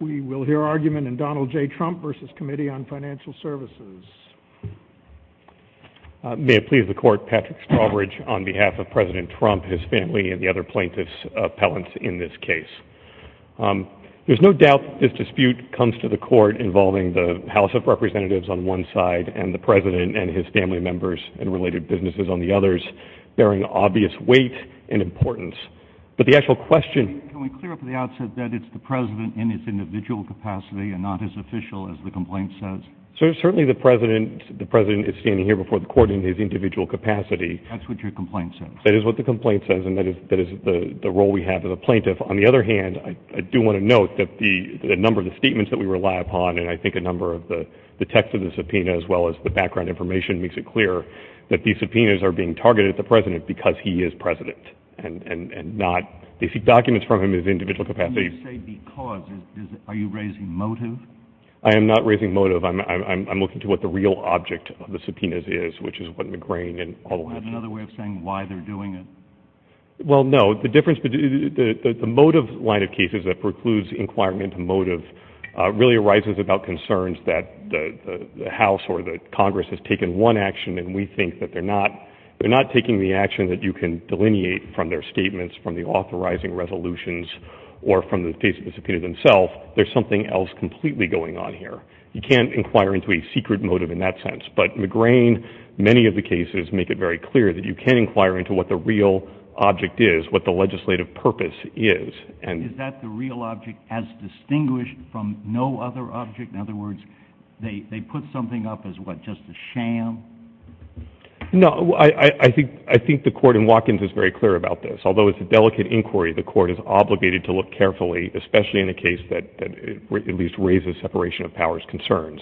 We will hear argument in Donald J. Trump v. Committee on Financial Services. May it please the Court, Patrick Stauberidge on behalf of President Trump, his family, and the other plaintiffs' appellants in this case. There's no doubt that this dispute comes to the Court involving the House of Representatives on one side and the President and his family members and related businesses on the others, bearing obvious weight and importance. Can we clear up at the outset that it's the President in his individual capacity and not as official as the complaint says? That's what your complaint says. They seek documents from him in his individual capacity. I am not raising motive. I'm looking to what the real object of the subpoenas is, which is what McGrane and all of us... Well, no. The difference between... The motive line of cases that precludes inquiring into motive really arises about concerns that the House or the Congress has taken one action and we think that they're not taking the action that you can delineate from their statements, from the authorizing resolutions, or from the case that was subpoenaed themselves. There's something else completely going on here. You can't inquire into a secret motive in that sense. But McGrane, many of the cases make it very clear that you can inquire into what the real object is, what the legislative purpose is. Is that the real object as distinguished from no other object? In other words, they put something up as what, just a sham? No, I think the court in Watkins is very clear about this. Although it's a delicate inquiry, the court is obligated to look carefully, especially in a case that at least raises separation of powers concerns,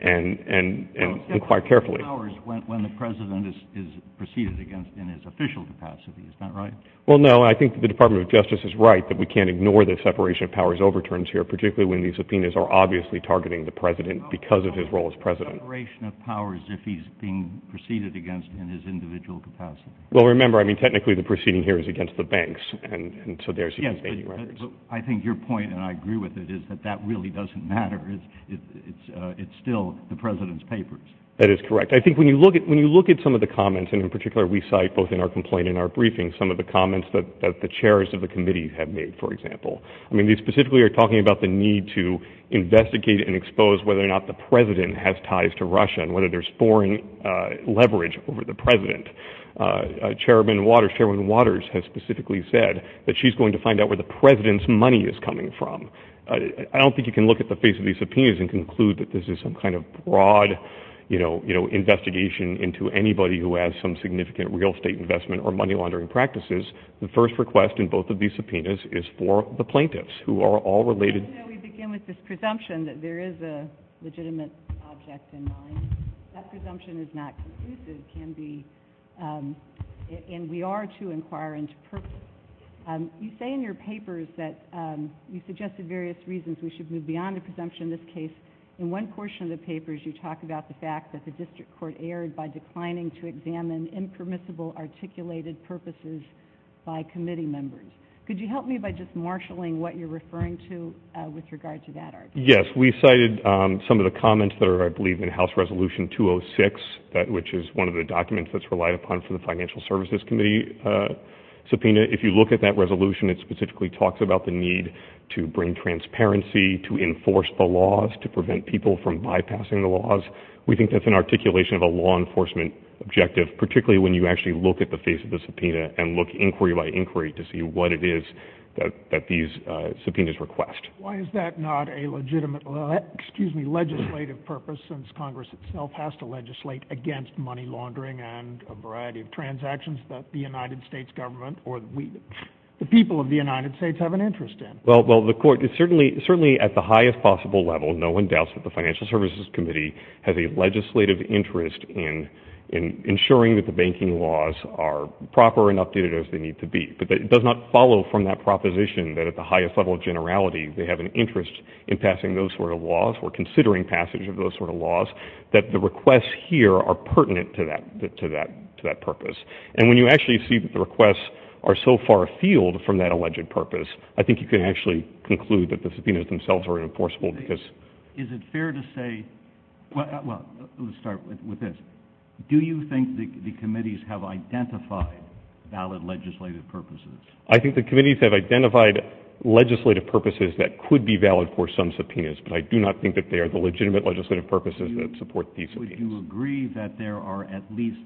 and inquire carefully. Separation of powers when the president is preceded against in his official capacity. Is that right? Well, no. I think the Department of Justice is right that we can't ignore the separation of powers overturns here, particularly when the subpoenas are obviously targeting the president because of his role as president. Separation of powers if he's being preceded against in his individual capacity. Well, remember, I mean, technically the proceeding here is against the banks, and so there's even fading records. I think your point, and I agree with it, is that that really doesn't matter. It's still the president's papers. That is correct. I think when you look at some of the comments, and in particular we cite both in our complaint and our briefing, some of the comments that the chairs of the committee have made, for example. I mean, they specifically are talking about the need to investigate and expose whether or not the president has ties to Russia and whether there's foreign leverage over the president. Chairman Waters has specifically said that she's going to find out where the president's money is coming from. I don't think you can look at the face of these subpoenas and conclude that this is some kind of broad investigation into anybody who has some significant real estate investment or money laundering practices. The first request in both of these subpoenas is for the plaintiffs, who are all related. Let me begin with this presumption that there is a legitimate object in mind. That presumption is not conclusive. It can be, and we are to inquire into purposes. You say in your papers that you suggested various reasons we should move beyond a presumption. In this case, in one portion of the papers, you talk about the fact that the district court erred by declining to examine impermissible articulated purposes by committee members. Could you help me by just marshalling what you're referring to with regard to that argument? Yes. We cited some of the comments that are, I believe, in House Resolution 206, which is one of the documents that's relied upon for the Financial Services Committee subpoena. If you look at that resolution, it specifically talks about the need to bring transparency, we think that's an articulation of a law enforcement objective, particularly when you actually look at the face of the subpoena and look inquiry by inquiry to see what it is that these subpoenas request. Why is that not a legitimate, excuse me, legislative purpose, since Congress itself has to legislate against money laundering and a variety of transactions that the United States government or the people of the United States have an interest in? Well, the court, certainly at the highest possible level, no one doubts that the Financial Services Committee has a legislative interest in ensuring that the banking laws are proper and updated as they need to be. But it does not follow from that proposition that at the highest level of generality they have an interest in passing those sort of laws or considering passage of those sort of laws, that the requests here are pertinent to that purpose. And when you actually see that the requests are so far afield from that alleged purpose, I think you can actually conclude that the subpoenas themselves are enforceable because... Is it fair to say, well, let's start with this. Do you think the committees have identified valid legislative purposes? I think the committees have identified legislative purposes that could be valid for some subpoenas, but I do not think that they are the legitimate legislative purposes that support these subpoenas. Would you agree that there are at least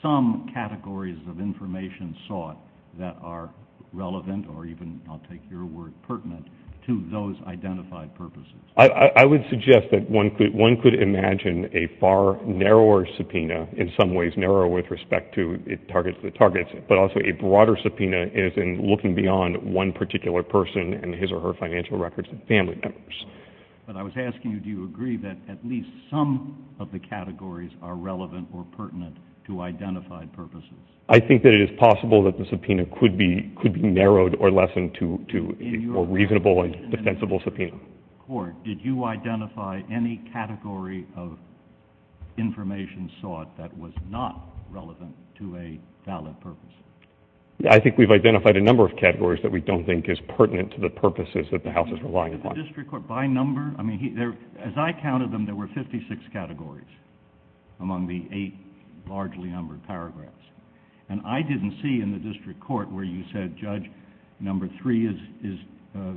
some categories of information sought that are relevant or even, I'll take your word, pertinent to those identified purposes? I would suggest that one could imagine a far narrower subpoena, in some ways narrower with respect to the targets, but also a broader subpoena is in looking beyond one particular person and his or her financial records and family members. But I was asking you, do you agree that at least some of the categories are relevant or pertinent to identified purposes? I think that it is possible that the subpoena could be narrowed or lessened to a more reasonable and defensible subpoena. Did you identify any category of information sought that was not relevant to a valid purpose? I think we've identified a number of categories that we don't think is pertinent to the purposes that the House is relying upon. The district court, by number? As I counted them, there were 56 categories among the eight largely numbered paragraphs, and I didn't see in the district court where you said, Judge, number three is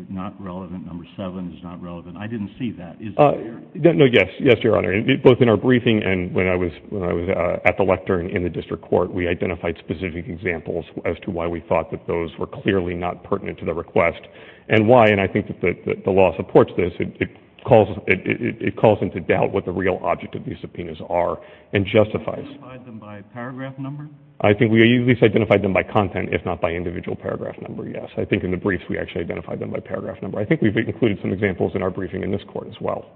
not relevant, number seven is not relevant. I didn't see that. Yes, Your Honor. Both in our briefing and when I was at the lectern in the district court, we identified specific examples as to why we thought that those were clearly not pertinent to the request and why, and I think that the law supports this, it calls into doubt what the real object of these subpoenas are and justifies them. Did you identify them by paragraph number? I think we at least identified them by content, if not by individual paragraph number, yes. I think in the briefs we actually identified them by paragraph number. I think we've included some examples in our briefing in this court as well.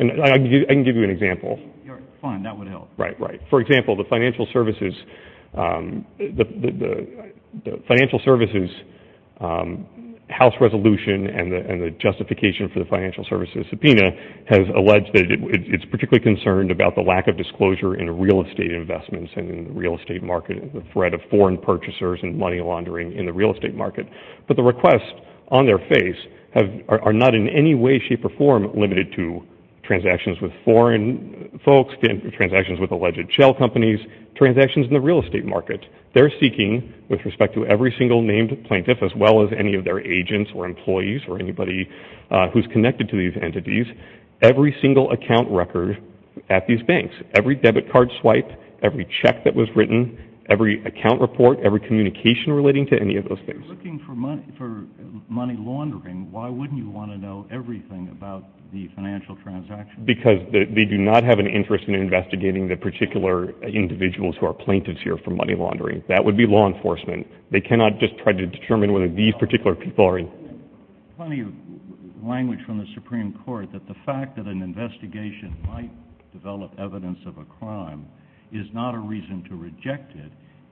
I can give you an example. Fine, that would help. Right, right. For example, the financial services house resolution and the justification for the financial services subpoena has alleged that it's particularly concerned about the lack of disclosure in real estate investments and in the real estate market and the threat of foreign purchasers and money laundering in the real estate market. transactions with foreign folks, transactions with alleged shell companies, transactions in the real estate market. They're seeking, with respect to every single named plaintiff as well as any of their agents or employees or anybody who's connected to these entities, every single account record at these banks, every debit card swipe, every check that was written, every account report, every communication relating to any of those things. If you're looking for money laundering, why wouldn't you want to know everything about the financial transactions? Because they do not have an interest in investigating the particular individuals who are plaintiffs here for money laundering. That would be law enforcement. They cannot just try to determine whether these particular people are in. Plenty of language from the Supreme Court that the fact that an investigation might develop evidence of a crime is not a reason to reject it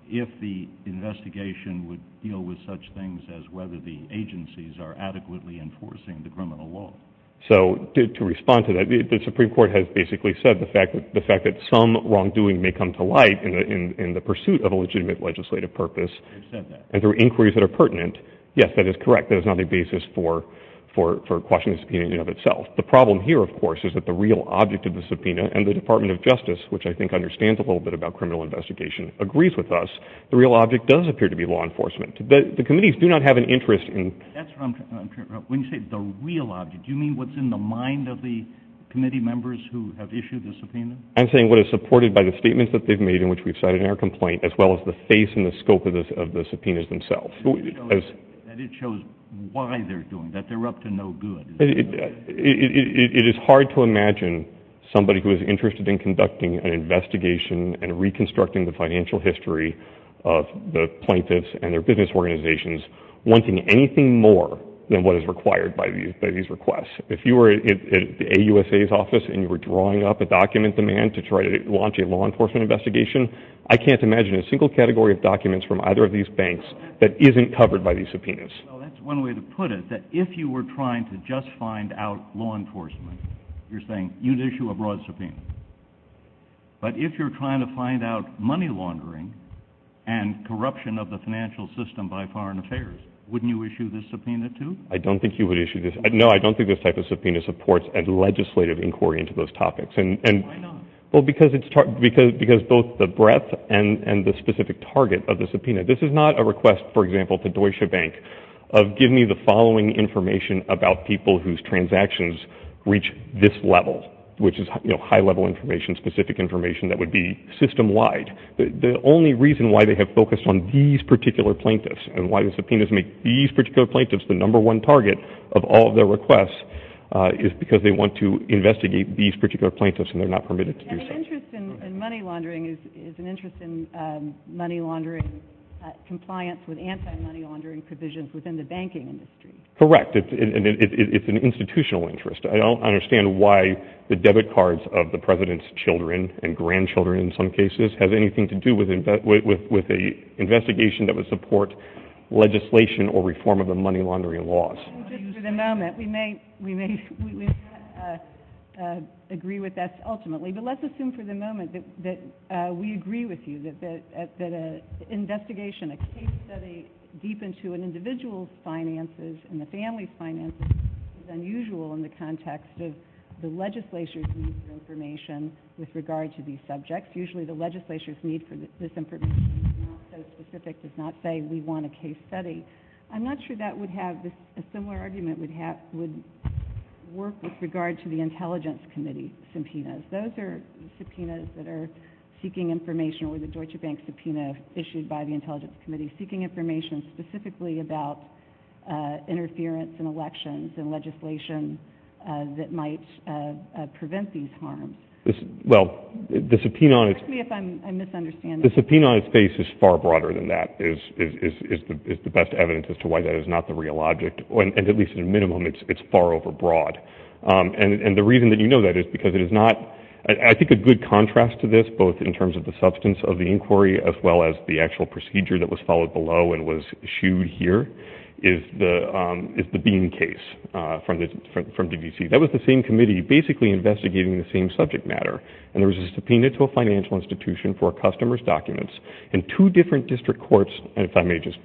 if the investigation would deal with such things as whether the agencies are adequately enforcing the criminal law. So to respond to that, the Supreme Court has basically said the fact that some wrongdoing may come to light in the pursuit of a legitimate legislative purpose and there are inquiries that are pertinent. Yes, that is correct. That is not a basis for quashing the subpoena in and of itself. The problem here, of course, is that the real object of the subpoena and the Department of Justice, which I think understands a little bit about criminal investigation, agrees with us. The real object does appear to be law enforcement. But the committees do not have an interest in... That's what I'm trying to get at. When you say the real object, do you mean what's in the mind of the committee members who have issued the subpoena? I'm saying what is supported by the statements that they've made in which we've cited in our complaint as well as the face and the scope of the subpoenas themselves. And it shows why they're doing that. They're up to no good. It is hard to imagine somebody who is interested in conducting an investigation and reconstructing the financial history of the plaintiffs and their business organizations wanting anything more than what is required by these requests. If you were at the AUSA's office and you were drawing up a document demand to try to launch a law enforcement investigation, I can't imagine a single category of documents from either of these banks that isn't covered by these subpoenas. That's one way to put it, that if you were trying to just find out law enforcement, you're saying you'd issue a broad subpoena. But if you're trying to find out money laundering and corruption of the financial system by foreign affairs, wouldn't you issue this subpoena too? I don't think you would issue this. No, I don't think this type of subpoena supports a legislative inquiry into those topics. Why not? Because both the breadth and the specific target of the subpoena. This is not a request, for example, to Deutsche Bank of giving me the following information about people whose transactions reach this level, which is high-level information, specific information that would be system-wide. The only reason why they have focused on these particular plaintiffs and why the subpoenas make these particular plaintiffs the number one target of all their requests is because they want to investigate these particular plaintiffs and they're not permitted to do so. An interest in money laundering is an interest in money laundering compliance with anti-money laundering provisions within the banking industry. Correct. It's an institutional interest. I don't understand why the debit cards of the President's children and grandchildren in some cases have anything to do with an investigation that would support legislation or reform of the money laundering laws. For the moment, we may agree with that ultimately, but let's assume for the moment that we agree with you that an investigation, a case study deep into an individual's finances and the family's finances is unusual in the context of the legislature's need for information with regard to these subjects. Usually the legislature's need for this information is not so specific. It's not saying we want a case study. I'm not sure that would have a similar argument would work with regard to the Intelligence Committee subpoenas. Those are subpoenas that are seeking information or the Deutsche Bank subpoena issued by the Intelligence Committee seeking information specifically about interference in elections and legislation that might prevent these harms. Well, the subpoena on its face is far broader than that, is the best evidence as to why that is not the real object. At least at a minimum, it's far over broad. And the reason that you know that is because it is not, I think, a good contrast to this, both in terms of the substance of the inquiry as well as the actual procedure that was followed below and was issued here is the Bean case from DVC. That was the same committee basically investigating the same subject matter, and there was a subpoena to a financial institution for a customer's documents in two different district courts, and if I may just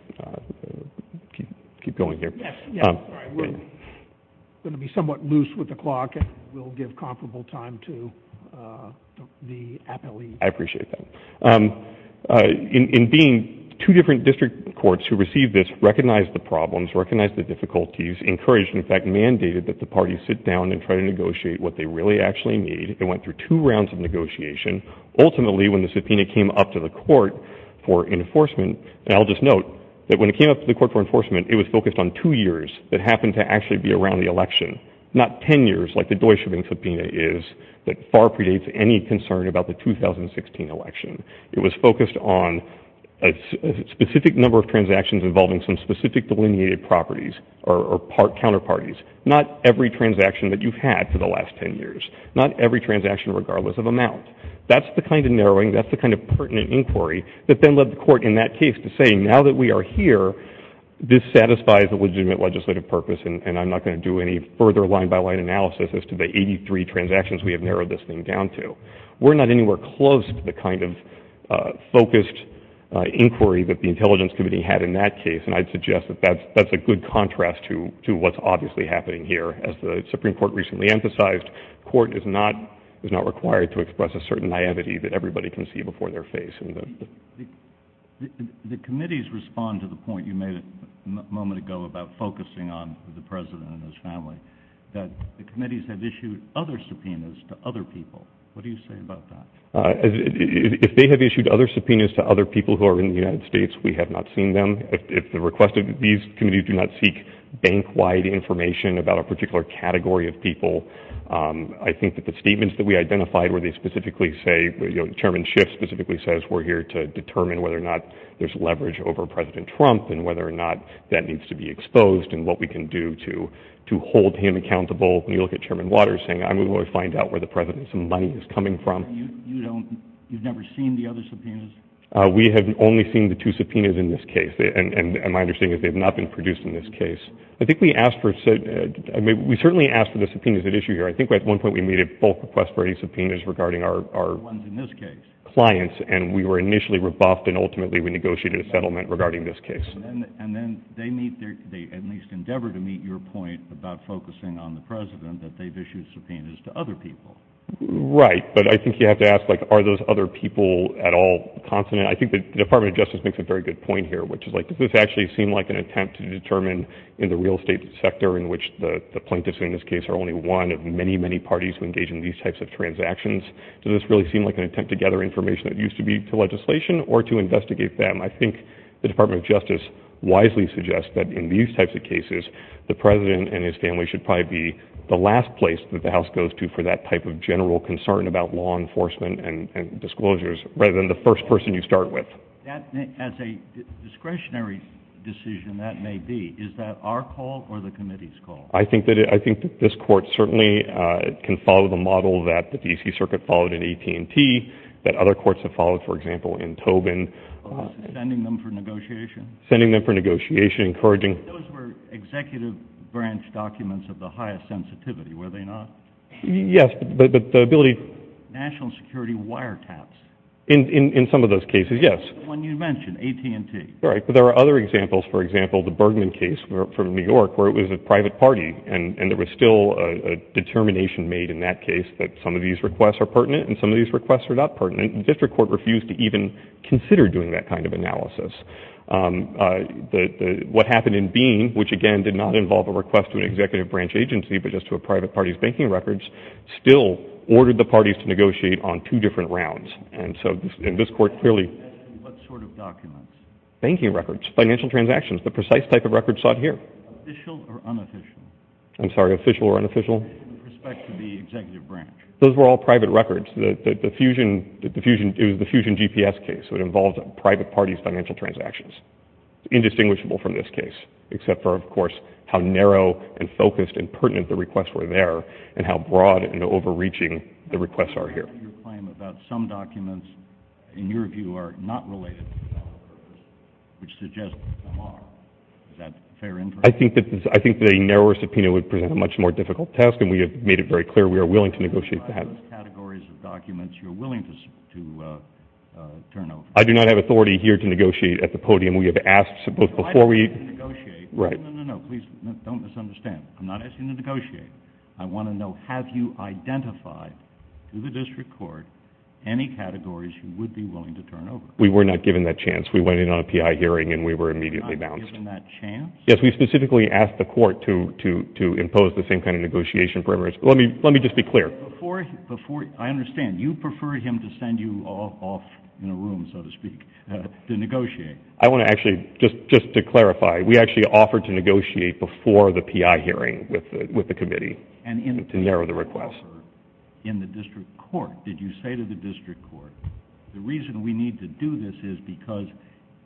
keep going here. Yes. We're going to be somewhat loose with the clock and we'll give comparable time to the appellee. I appreciate that. In Bean, two different district courts who received this recognized the problems, recognized the difficulties, encouraged, in fact, mandated that the parties sit down and try to negotiate what they really actually need. It went through two rounds of negotiation. Ultimately, when the subpoena came up to the court for enforcement, and I'll just note that when it came up to the court for enforcement, it was focused on two years that happened to actually be around the election, not 10 years like the Deutsche Bank subpoena is that far predates any concern about the 2016 election. It was focused on a specific number of transactions involving some specific delineated properties or counterparties, not every transaction that you've had for the last 10 years, not every transaction regardless of amount. That's the kind of narrowing, that's the kind of pertinent inquiry that then led the court in that case to say now that we are here, this satisfies the legitimate legislative purpose, and I'm not going to do any further line-by-line analysis as to the 83 transactions we have narrowed this thing down to. We're not anywhere close to the kind of focused inquiry that the Intelligence Committee had in that case, and I'd suggest that that's a good contrast to what's obviously happening here. As the Supreme Court recently emphasized, court is not required to express a certain naivety that everybody can see before their face. The committees respond to the point you made a moment ago about focusing on the president and his family, that the committees have issued other subpoenas to other people. What do you say about that? If they have issued other subpoenas to other people who are in the United States, we have not seen them. If the request of these committees do not seek bank-wide information about a particular category of people, I think that the statements that we identified where they specifically say, you know, Chairman Schiff specifically says we're here to determine whether or not there's leverage over President Trump and whether or not that needs to be exposed and what we can do to hold him accountable. You look at Chairman Waters saying, I'm going to find out where the president's money is coming from. You don't, you've never seen the other subpoenas? We have only seen the two subpoenas in this case, and my understanding is they have not been produced in this case. I think we asked for, we certainly asked for the subpoenas at issue here. I think at one point we made a bulk request for subpoenas regarding our clients, and we were initially rebuffed, and ultimately we negotiated a settlement regarding this case. And then they meet their, they at least endeavor to meet your point about focusing on the president that they've issued subpoenas to other people. Right, but I think you have to ask, like, are those other people at all confident? I think the Department of Justice makes a very good point here, which is, like, this actually seemed like an attempt to determine in the real estate sector in which the plaintiffs in this case are only one of many, many parties who engage in these types of transactions. Did this really seem like an attempt to gather information that used to be for legislation or to investigate them? I think the Department of Justice wisely suggests that in these types of cases, the president and his family should probably be the last place that the House goes to for that type of general concern about law enforcement and disclosures rather than the first person you start with. As a discretionary decision that may be, is that our call or the committee's call? I think this court certainly can follow the model that the D.C. Circuit followed in AT&T, that other courts have followed, for example, in Tobin. Sending them for negotiation? Sending them for negotiation, encouraging... Those were executive branch documents of the highest sensitivity, were they not? Yes, but the ability... National security wiretaps. In some of those cases, yes. The one you mentioned, AT&T. Right, but there are other examples, for example, the Bergman case from New York where it was a private party and there was still a determination made in that case that some of these requests are pertinent and some of these requests are not pertinent. The district court refused to even consider doing that kind of analysis. What happened in Bean, which again did not involve a request to an executive branch agency but just to a private party's banking records, still ordered the parties to negotiate on two different rounds. And so this court clearly... What sort of documents? Banking records, financial transactions, the precise type of records sought here. Official or unofficial? I'm sorry, official or unofficial? In respect to the executive branch. Those were all private records. The Fusion GPS case, it involved private parties' financial transactions. Indistinguishable from this case, except for, of course, how narrow and focused and pertinent the requests were there and how broad and overreaching the requests are here. Your claim about some documents, in your view, are not related, which suggests they are. Is that fair information? I think the narrower subpoena would present a much more difficult task and we have made it very clear we are willing to negotiate that. Are there other categories of documents you are willing to turn over? I do not have authority here to negotiate at the podium. We have asked before we... I'm not asking you to negotiate. No, no, no, no, please don't misunderstand. I'm not asking you to negotiate. I want to know, have you identified to the district court any categories you would be willing to turn over? We were not given that chance. We went in on a PI hearing and we were immediately bounced. Not given that chance? Yes, we specifically asked the court to impose the same kind of negotiation. Let me just be clear. I understand. You prefer him to send you off in a room, so to speak, to negotiate. I want to actually, just to clarify, we actually offered to negotiate before the PI hearing with the committee to narrow the request. In the district court. Did you say to the district court, the reason we need to do this is because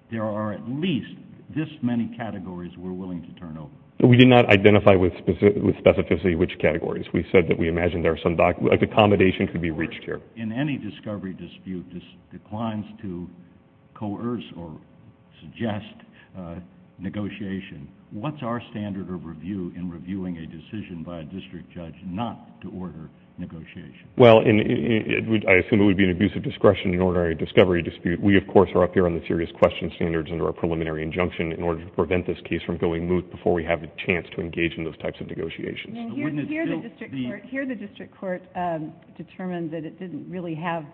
there are at least this many categories we're willing to turn over. We did not identify with specificity which categories. We said that we imagined there are some documents. Accommodation could be reached here. In any discovery dispute, this declines to coerce or suggest negotiation. What's our standard of review in reviewing a decision by a district judge not to order negotiation? Well, I assume it would be an abuse of discretion in an ordinary discovery dispute. We, of course, are up here on the serious question standards under our preliminary injunction in order to prevent this case from going moot before we have a chance to engage in those types of negotiations. Here the district court determined that it didn't really have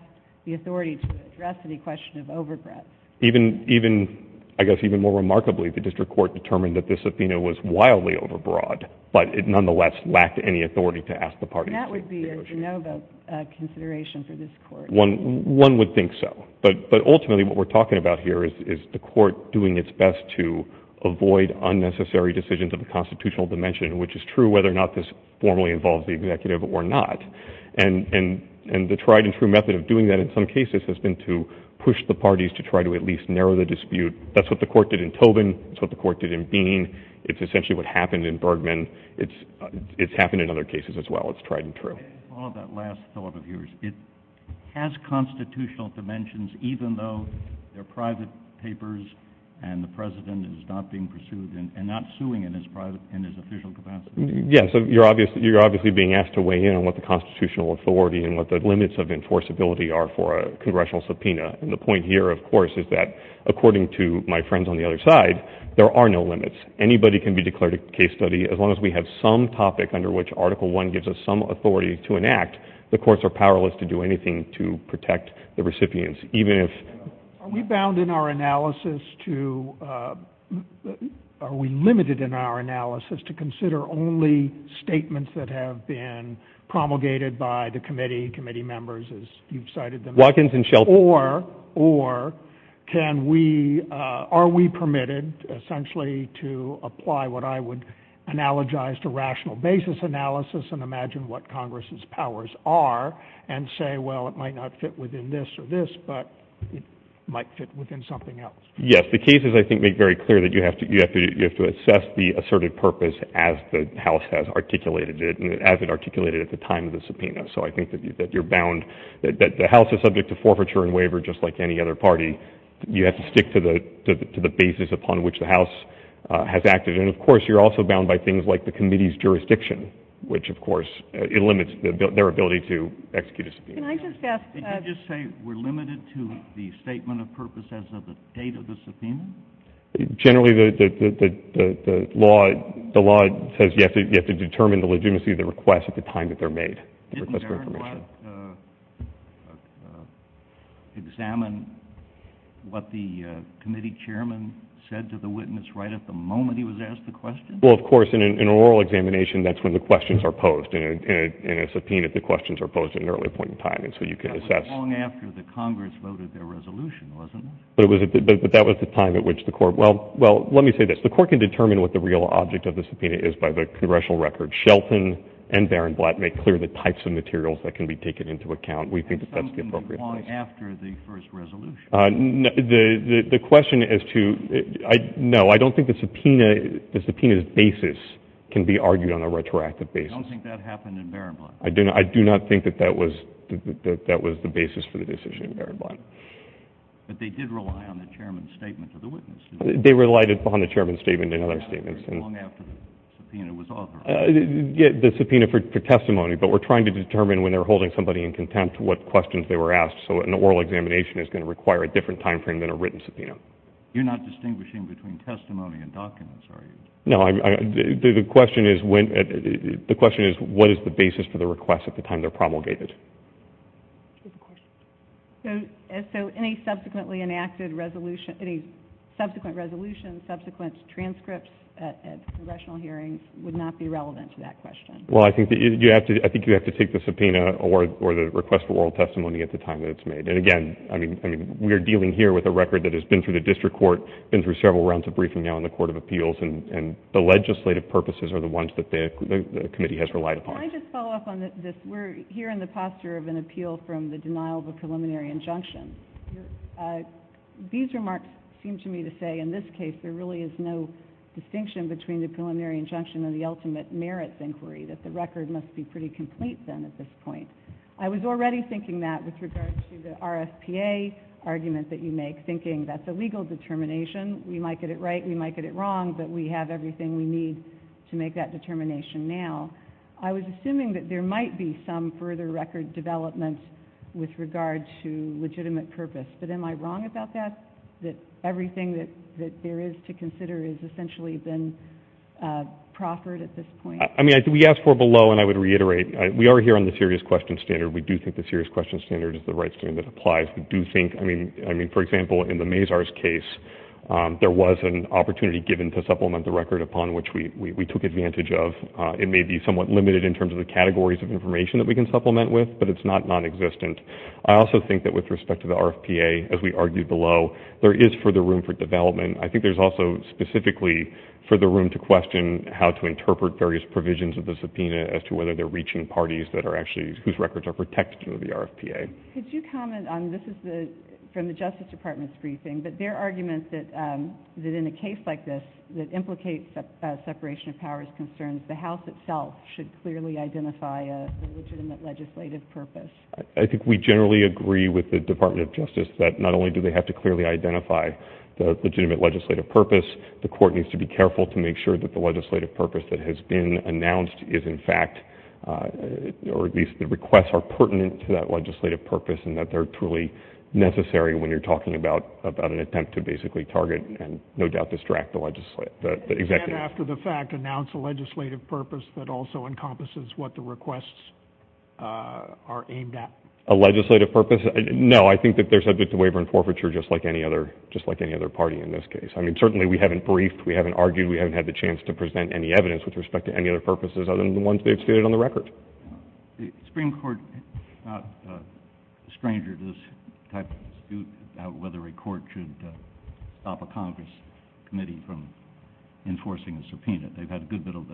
the authority to address any question of overgrowth. Even, I guess, even more remarkably, the district court determined that this subpoena was wildly overbroad, but it nonetheless lacked any authority to ask the parties to negotiate. That would be a de novo consideration for this court. One would think so. But ultimately what we're talking about here is the court doing its best to avoid unnecessary decisions of the constitutional dimension, which is true whether or not this formally involves the executive or not. And the tried-and-true method of doing that in some cases has been to push the parties to try to at least narrow the dispute. That's what the court did in Tobin. That's what the court did in Bean. It's essentially what happened in Bergman. It's happened in other cases as well. It's tried and true. I'll follow that last thought of yours. It has constitutional dimensions, even though they're private papers and the president is not being pursued and not suing in his official capacity. Yes, you're obviously being asked to weigh in on what the constitutional authority and what the limits of enforceability are for a congressional subpoena. And the point here, of course, is that, according to my friends on the other side, there are no limits. Anybody can be declared a case study as long as we have some topic under which Article I gives us some authority to enact. The courts are powerless to do anything to protect the recipients. Are we limited in our analysis to consider only statements that have been promulgated by the committee, committee members, as you've cited them as? Or are we permitted, essentially, to apply what I would analogize to rational basis analysis and imagine what Congress's powers are and say, well, it might not fit within this or this, but it might fit within something else? Yes, the cases, I think, make very clear that you have to assess the asserted purpose as the House has articulated it, as it articulated it at the time of the subpoena. So I think that you're bound. The House is subject to forfeiture and waiver, just like any other party. You have to stick to the basis upon which the House has acted. And, of course, you're also bound by things like the committee's jurisdiction, which, of course, it limits their ability to execute a subpoena. Can I just ask... Did you just say we're limited to the statement of purpose as of the date of the subpoena? Generally, the law says you have to determine the legitimacy of the request at the time that they're made. Didn't everyone examine what the committee chairman said to the witness right at the moment he was asked the question? Well, of course, in an oral examination, that's when the questions are posed. In a subpoena, the questions are posed at an early point in time, and so you can assess... That was long after the Congress voted their resolution, wasn't it? But that was the time at which the Court... Well, let me say this. The Court can determine what the real object of the subpoena is by the congressional record. Shelton and Baron Blatt make clear the types of materials that can be taken into account. We think that that's the appropriate place. And something that's long after the first resolution? The question as to... No, I don't think the subpoena's basis can be argued on a retroactive basis. You don't think that happened in Baron Blatt? I do not think that that was the basis for the decision in Baron Blatt. But they did rely on the chairman's statement to the witness, didn't they? They relied upon the chairman's statement and other statements. That was long after the subpoena was authored. The subpoena for testimony, but we're trying to determine when they're holding somebody in contempt what questions they were asked, so an oral examination is going to require a different time frame than a written subpoena. You're not distinguishing between testimony and documents, are you? No, the question is what is the basis for the request at the time they're promulgated? So any subsequently enacted resolution, any subsequent resolution, subsequent transcripts at congressional hearings would not be relevant to that question? Well, I think you have to take the subpoena or the request for oral testimony at the time that it's made. Again, we are dealing here with a record that has been through the district court, been through several rounds of briefing now in the Court of Appeals, and the legislative purposes are the ones that the committee has relied upon. Can I just follow up on this? We're here in the posture of an appeal from the denial of a preliminary injunction. These remarks seem to me to say, in this case, there really is no distinction between the preliminary injunction and the ultimate merits inquiry, that the record must be pretty complete then at this point. I was already thinking that with regard to the RSPA argument that you make, thinking that's a legal determination. We might get it right, we might get it wrong, but we have everything we need to make that determination now. I was assuming that there might be some further record development with regard to legitimate purpose. But am I wrong about that, that everything that there is to consider has essentially been proffered at this point? I mean, we asked for below, and I would reiterate. We are here on the serious questions standard. We do think the serious questions standard is the right standard that applies. We do think, I mean, for example, in the Mazars case, there was an opportunity given to supplement the record upon which we took advantage of. It may be somewhat limited in terms of the categories of information that we can supplement with, but it's not nonexistent. I also think that with respect to the RFPA, as we argued below, there is further room for development. I think there's also specifically further room to question how to interpret various provisions of the subpoena as to whether they're reaching parties whose records are protected under the RFPA. Could you comment on, this is from the Justice Department's briefing, but their argument that in a case like this that implicates separation of powers concerns, the House itself should clearly identify a legitimate legislative purpose. I think we generally agree with the Department of Justice that not only do they have to clearly identify the legitimate legislative purpose, the court needs to be careful to make sure that the legislative purpose that has been announced is in fact, or at least the requests are pertinent to that legislative purpose and that they're truly necessary when you're talking about an attempt to basically target and no doubt distract the executive. And after the fact, announce a legislative purpose that also encompasses what the requests are aimed at. A legislative purpose? No, I think that they're subject to waiver and forfeiture just like any other party in this case. I mean, certainly we haven't briefed, we haven't argued, we haven't had the chance to present any evidence with respect to any other purposes other than the ones that are stated on the record. The Supreme Court is not a stranger to this type of dispute about whether a court should stop a Congress committee from enforcing a subpoena. They've had a good bit of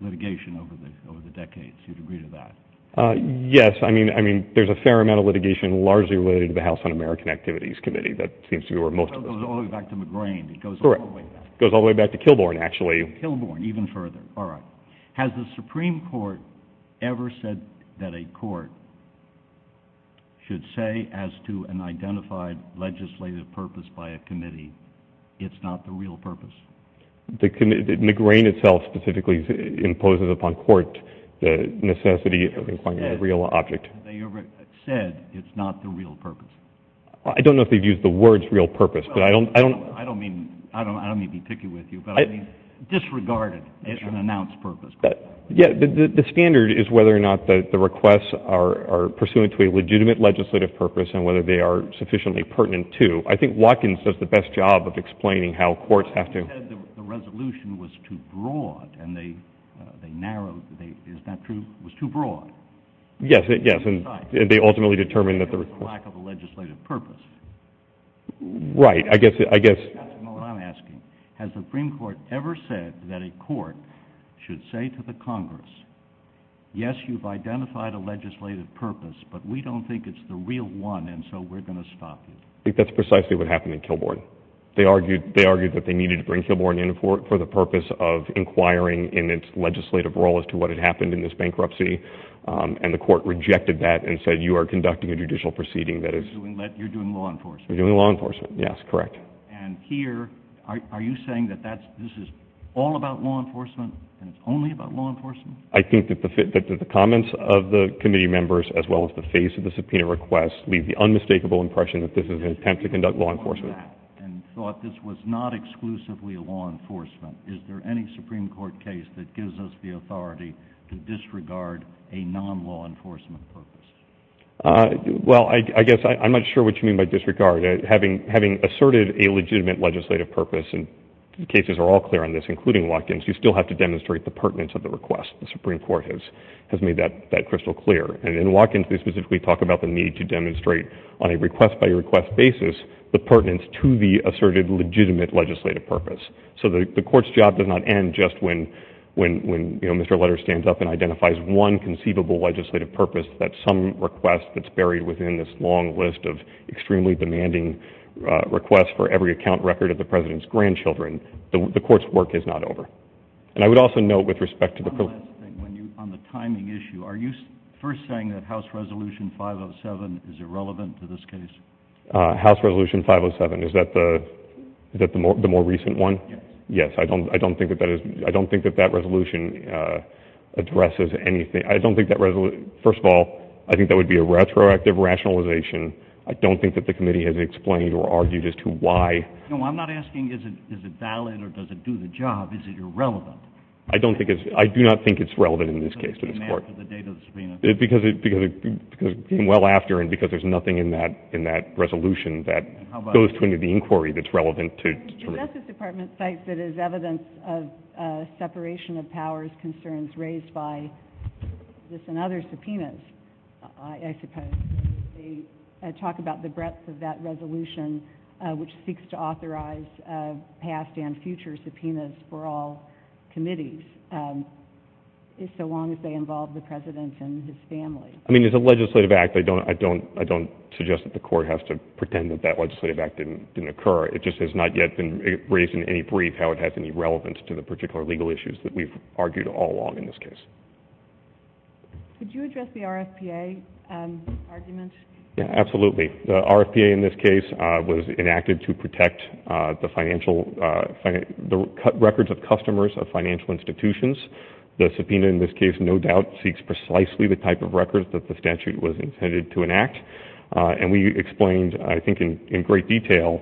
litigation over the decades. Do you agree with that? Yes, I mean, there's a fair amount of litigation largely related to the House Un-American Activities Committee. That seems to be where most of us are. It goes all the way back to McGrane. Correct. It goes all the way back to Kilbourn, actually. Kilbourn, even further. All right. Has the Supreme Court ever said that a court should say as to an identified legislative purpose by a committee, it's not the real purpose? McGrane itself specifically imposes upon court the necessity of inciting a real object. Have they ever said it's not the real purpose? I don't know if they've used the words real purpose. I don't mean to be picky with you, but disregarded as an announced purpose. The standard is whether or not the requests are pursuant to a legitimate legislative purpose and whether they are sufficiently pertinent to. I think Watkins does the best job of explaining how courts have to— He said the resolution was too broad and they narrowed it. Is that true? It was too broad. Yes. They ultimately determined that the— It's a lack of a legislative purpose. Right. I guess— That's what I'm asking. Has the Supreme Court ever said that a court should say to the Congress, yes, you've identified a legislative purpose, but we don't think it's the real one and so we're going to stop it? I think that's precisely what happened in Kilbourn. They argued that they needed to bring Kilbourn in for the purpose of inquiring in its legislative role as to what had happened in this bankruptcy, and the court rejected that and said you are conducting a judicial proceeding that is— You're doing law enforcement. You're doing law enforcement. Yes, correct. And here, are you saying that this is all about law enforcement and only about law enforcement? I think that the comments of the committee members as well as the face of the subpoena request leave the unmistakable impression that this is an attempt to conduct law enforcement. And thought this was not exclusively a law enforcement. Is there any Supreme Court case that gives us the authority to disregard a non-law enforcement purpose? Well, I guess I'm not sure what you mean by disregard. Having asserted a legitimate legislative purpose, and cases are all clear on this, including Watkins, you still have to demonstrate the pertinence of the request. The Supreme Court has made that crystal clear. And in Watkins, they specifically talk about the need to demonstrate on a request-by-request basis the pertinence to the asserted legitimate legislative purpose. So the court's job does not end just when Mr. Lutter stands up and identifies one conceivable legislative purpose that some request that's buried within this long list of extremely demanding requests for every account record of the president's grandchildren. The court's work is not over. And I would also note with respect to the— One last thing on the timing issue. Are you first saying that House Resolution 507 is irrelevant to this case? House Resolution 507, is that the more recent one? Yes. Yes, I don't think that that resolution addresses anything. First of all, I think that would be a retroactive rationalization. I don't think that the committee has explained or argued as to why. No, I'm not asking is it valid or does it do the job. Is it irrelevant? I do not think it's relevant in this case to this court. Because it came after the date of the subpoena. The Justice Department cites it as evidence of separation of powers concerns raised by this and other subpoenas, I suppose. They talk about the breadth of that resolution, which seeks to authorize past and future subpoenas for all committees, so long as they involve the president and his family. I mean, as a legislative act, I don't suggest that the court has to pretend that that legislative act didn't occur. It just has not yet been raised in any brief how it has any relevance to the particular legal issues that we've argued all along in this case. Could you address the RFPA argument? Absolutely. The RFPA in this case was enacted to protect the records of customers of financial institutions. The subpoena in this case no doubt seeks precisely the type of records that the statute was intended to enact. And we explained, I think, in great detail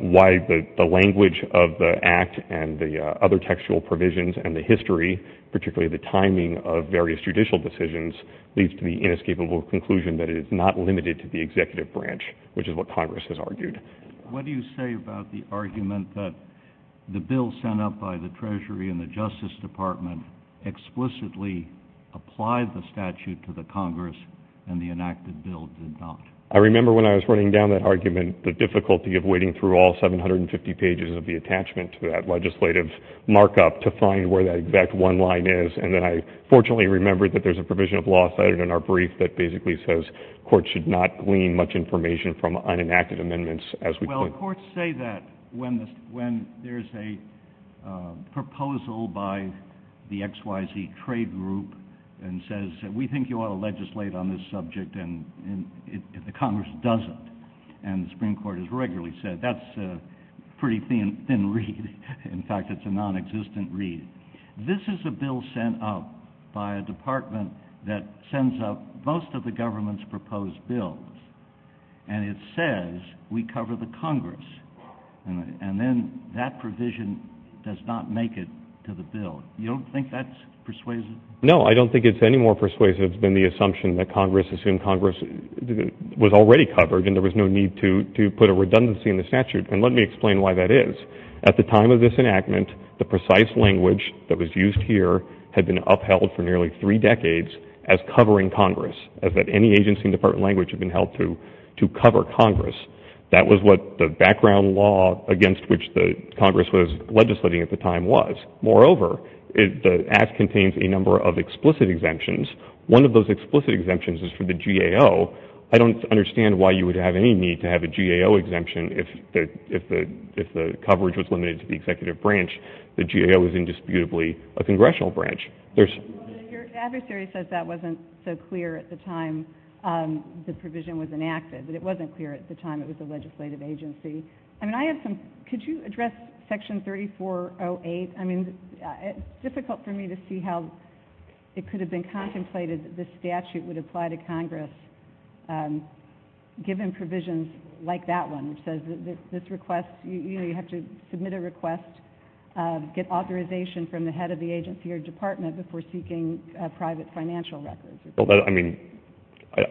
why the language of the act and the other textual provisions and the history, particularly the timing of various judicial decisions, leads to the inescapable conclusion that it is not limited to the executive branch, which is what Congress has argued. What do you say about the argument that the bill sent up by the Treasury and the Justice Department explicitly applied the statute to the Congress and the enacted bill did not? I remember when I was writing down that argument, the difficulty of wading through all 750 pages of the attachment to that legislative markup to find where that exact one line is. And then I fortunately remembered that there's a provision of law cited in our brief that basically says courts should not glean much information from unenacted amendments, as we put it. Well, courts say that when there's a proposal by the XYZ trade group and says, we think you ought to legislate on this subject, and the Congress doesn't. And the Supreme Court has regularly said that's a pretty thin read. In fact, it's a non-existent read. This is a bill sent up by a department that sends up most of the government's proposed bills. And it says we cover the Congress. And then that provision does not make it to the bill. You don't think that's persuasive? No, I don't think it's any more persuasive than the assumption that Congress, assuming Congress was already covered and there was no need to put a redundancy in the statute. And let me explain why that is. At the time of this enactment, the precise language that was used here had been upheld for nearly three decades as covering Congress, as that any agency and department language had been held to to cover Congress. That was what the background law against which the Congress was legislating at the time was. Moreover, the act contains a number of explicit exemptions. One of those explicit exemptions is for the GAO. So I don't understand why you would have any need to have a GAO exemption if the coverage was limited to the executive branch. The GAO is indisputably a congressional branch. Your adversary says that wasn't so clear at the time the provision was enacted, but it wasn't clear at the time it was a legislative agency. Could you address Section 3408? I mean, it's difficult for me to see how it could have been contemplated that this statute would apply to Congress given provisions like that one, which says that this request, you know, you have to submit a request, get authorization from the head of the agency or department before seeking private financial records. I mean,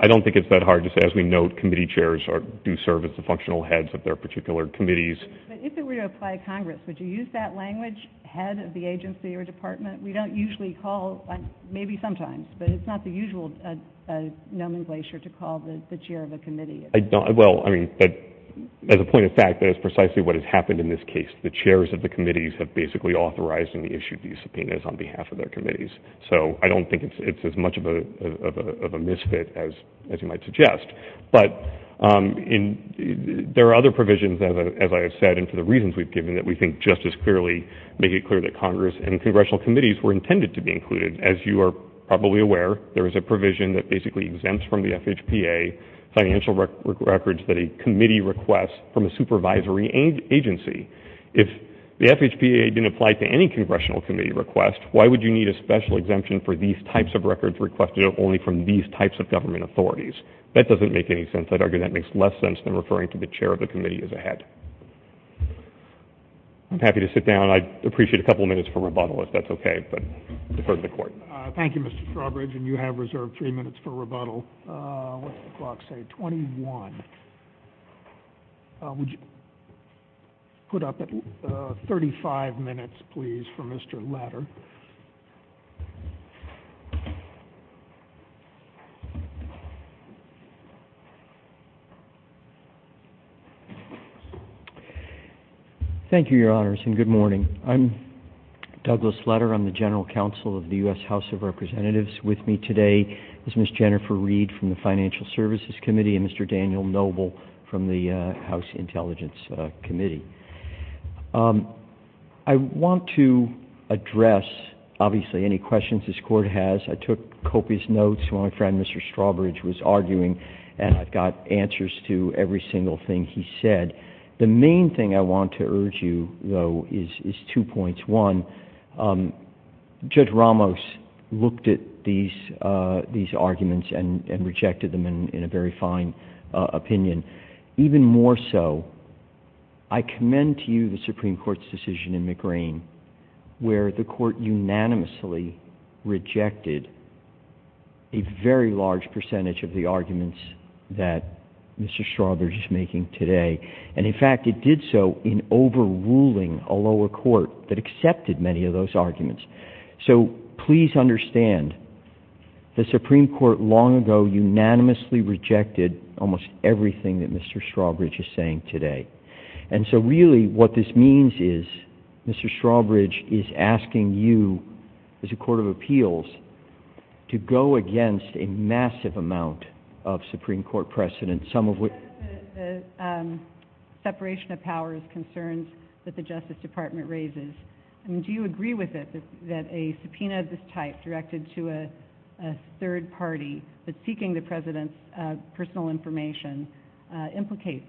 I don't think it's that hard to say. As we note, committee chairs do serve as the functional heads of their particular committees. But if it were to apply to Congress, would you use that language, head of the agency or department? We don't usually call, maybe sometimes, but it's not the usual nomenclature to call the chair of a committee. Well, I mean, as a point of fact, that is precisely what has happened in this case. The chairs of the committees have basically authorized and issued these subpoenas on behalf of their committees. So I don't think it's as much of a misfit as you might suggest. But there are other provisions, as I have said, and for the reasons we've given, that we think just as clearly make it clear that Congress and congressional committees were intended to be included. As you are probably aware, there is a provision that basically exempts from the FHPA financial records that a committee requests from a supervisory agency. If the FHPA didn't apply to any congressional committee request, why would you need a special exemption for these types of records requested only from these types of government authorities? That doesn't make any sense. I'd argue that makes less sense than referring to the chair of the committee as a head. I'm happy to sit down. I'd appreciate a couple of minutes for rebuttal if that's okay, but defer to the court. Thank you, Mr. Strawbridge, and you have reserved three minutes for rebuttal. The clock says 21. Put up 35 minutes, please, for Mr. Lutter. Thank you, Your Honors, and good morning. I'm Douglas Lutter. I'm the general counsel of the U.S. House of Representatives. With me today is Ms. Jennifer Reed from the Financial Services Committee and Mr. Daniel Noble from the House Intelligence Committee. I want to address, obviously, any questions this Court has. I took copious notes when my friend, Mr. Strawbridge, was arguing, and I've got answers to every single thing he said. The main thing I want to urge you, though, is two points. One, Judge Ramos looked at these arguments and rejected them in a very fine opinion. Even more so, I commend to you the Supreme Court's decision in McGrane where the Court unanimously rejected a very large percentage of the arguments that Mr. Strawbridge is making today. And, in fact, it did so in overruling a lower court that accepted many of those arguments. So please understand, the Supreme Court long ago unanimously rejected almost everything that Mr. Strawbridge is saying today. And so, really, what this means is Mr. Strawbridge is asking you, as a court of appeals, to go against a massive amount of Supreme Court precedent, some of which— The separation of powers concerns that the Justice Department raises. Do you agree with it that a subpoena of this type directed to a third party that's seeking the President's personal information implicates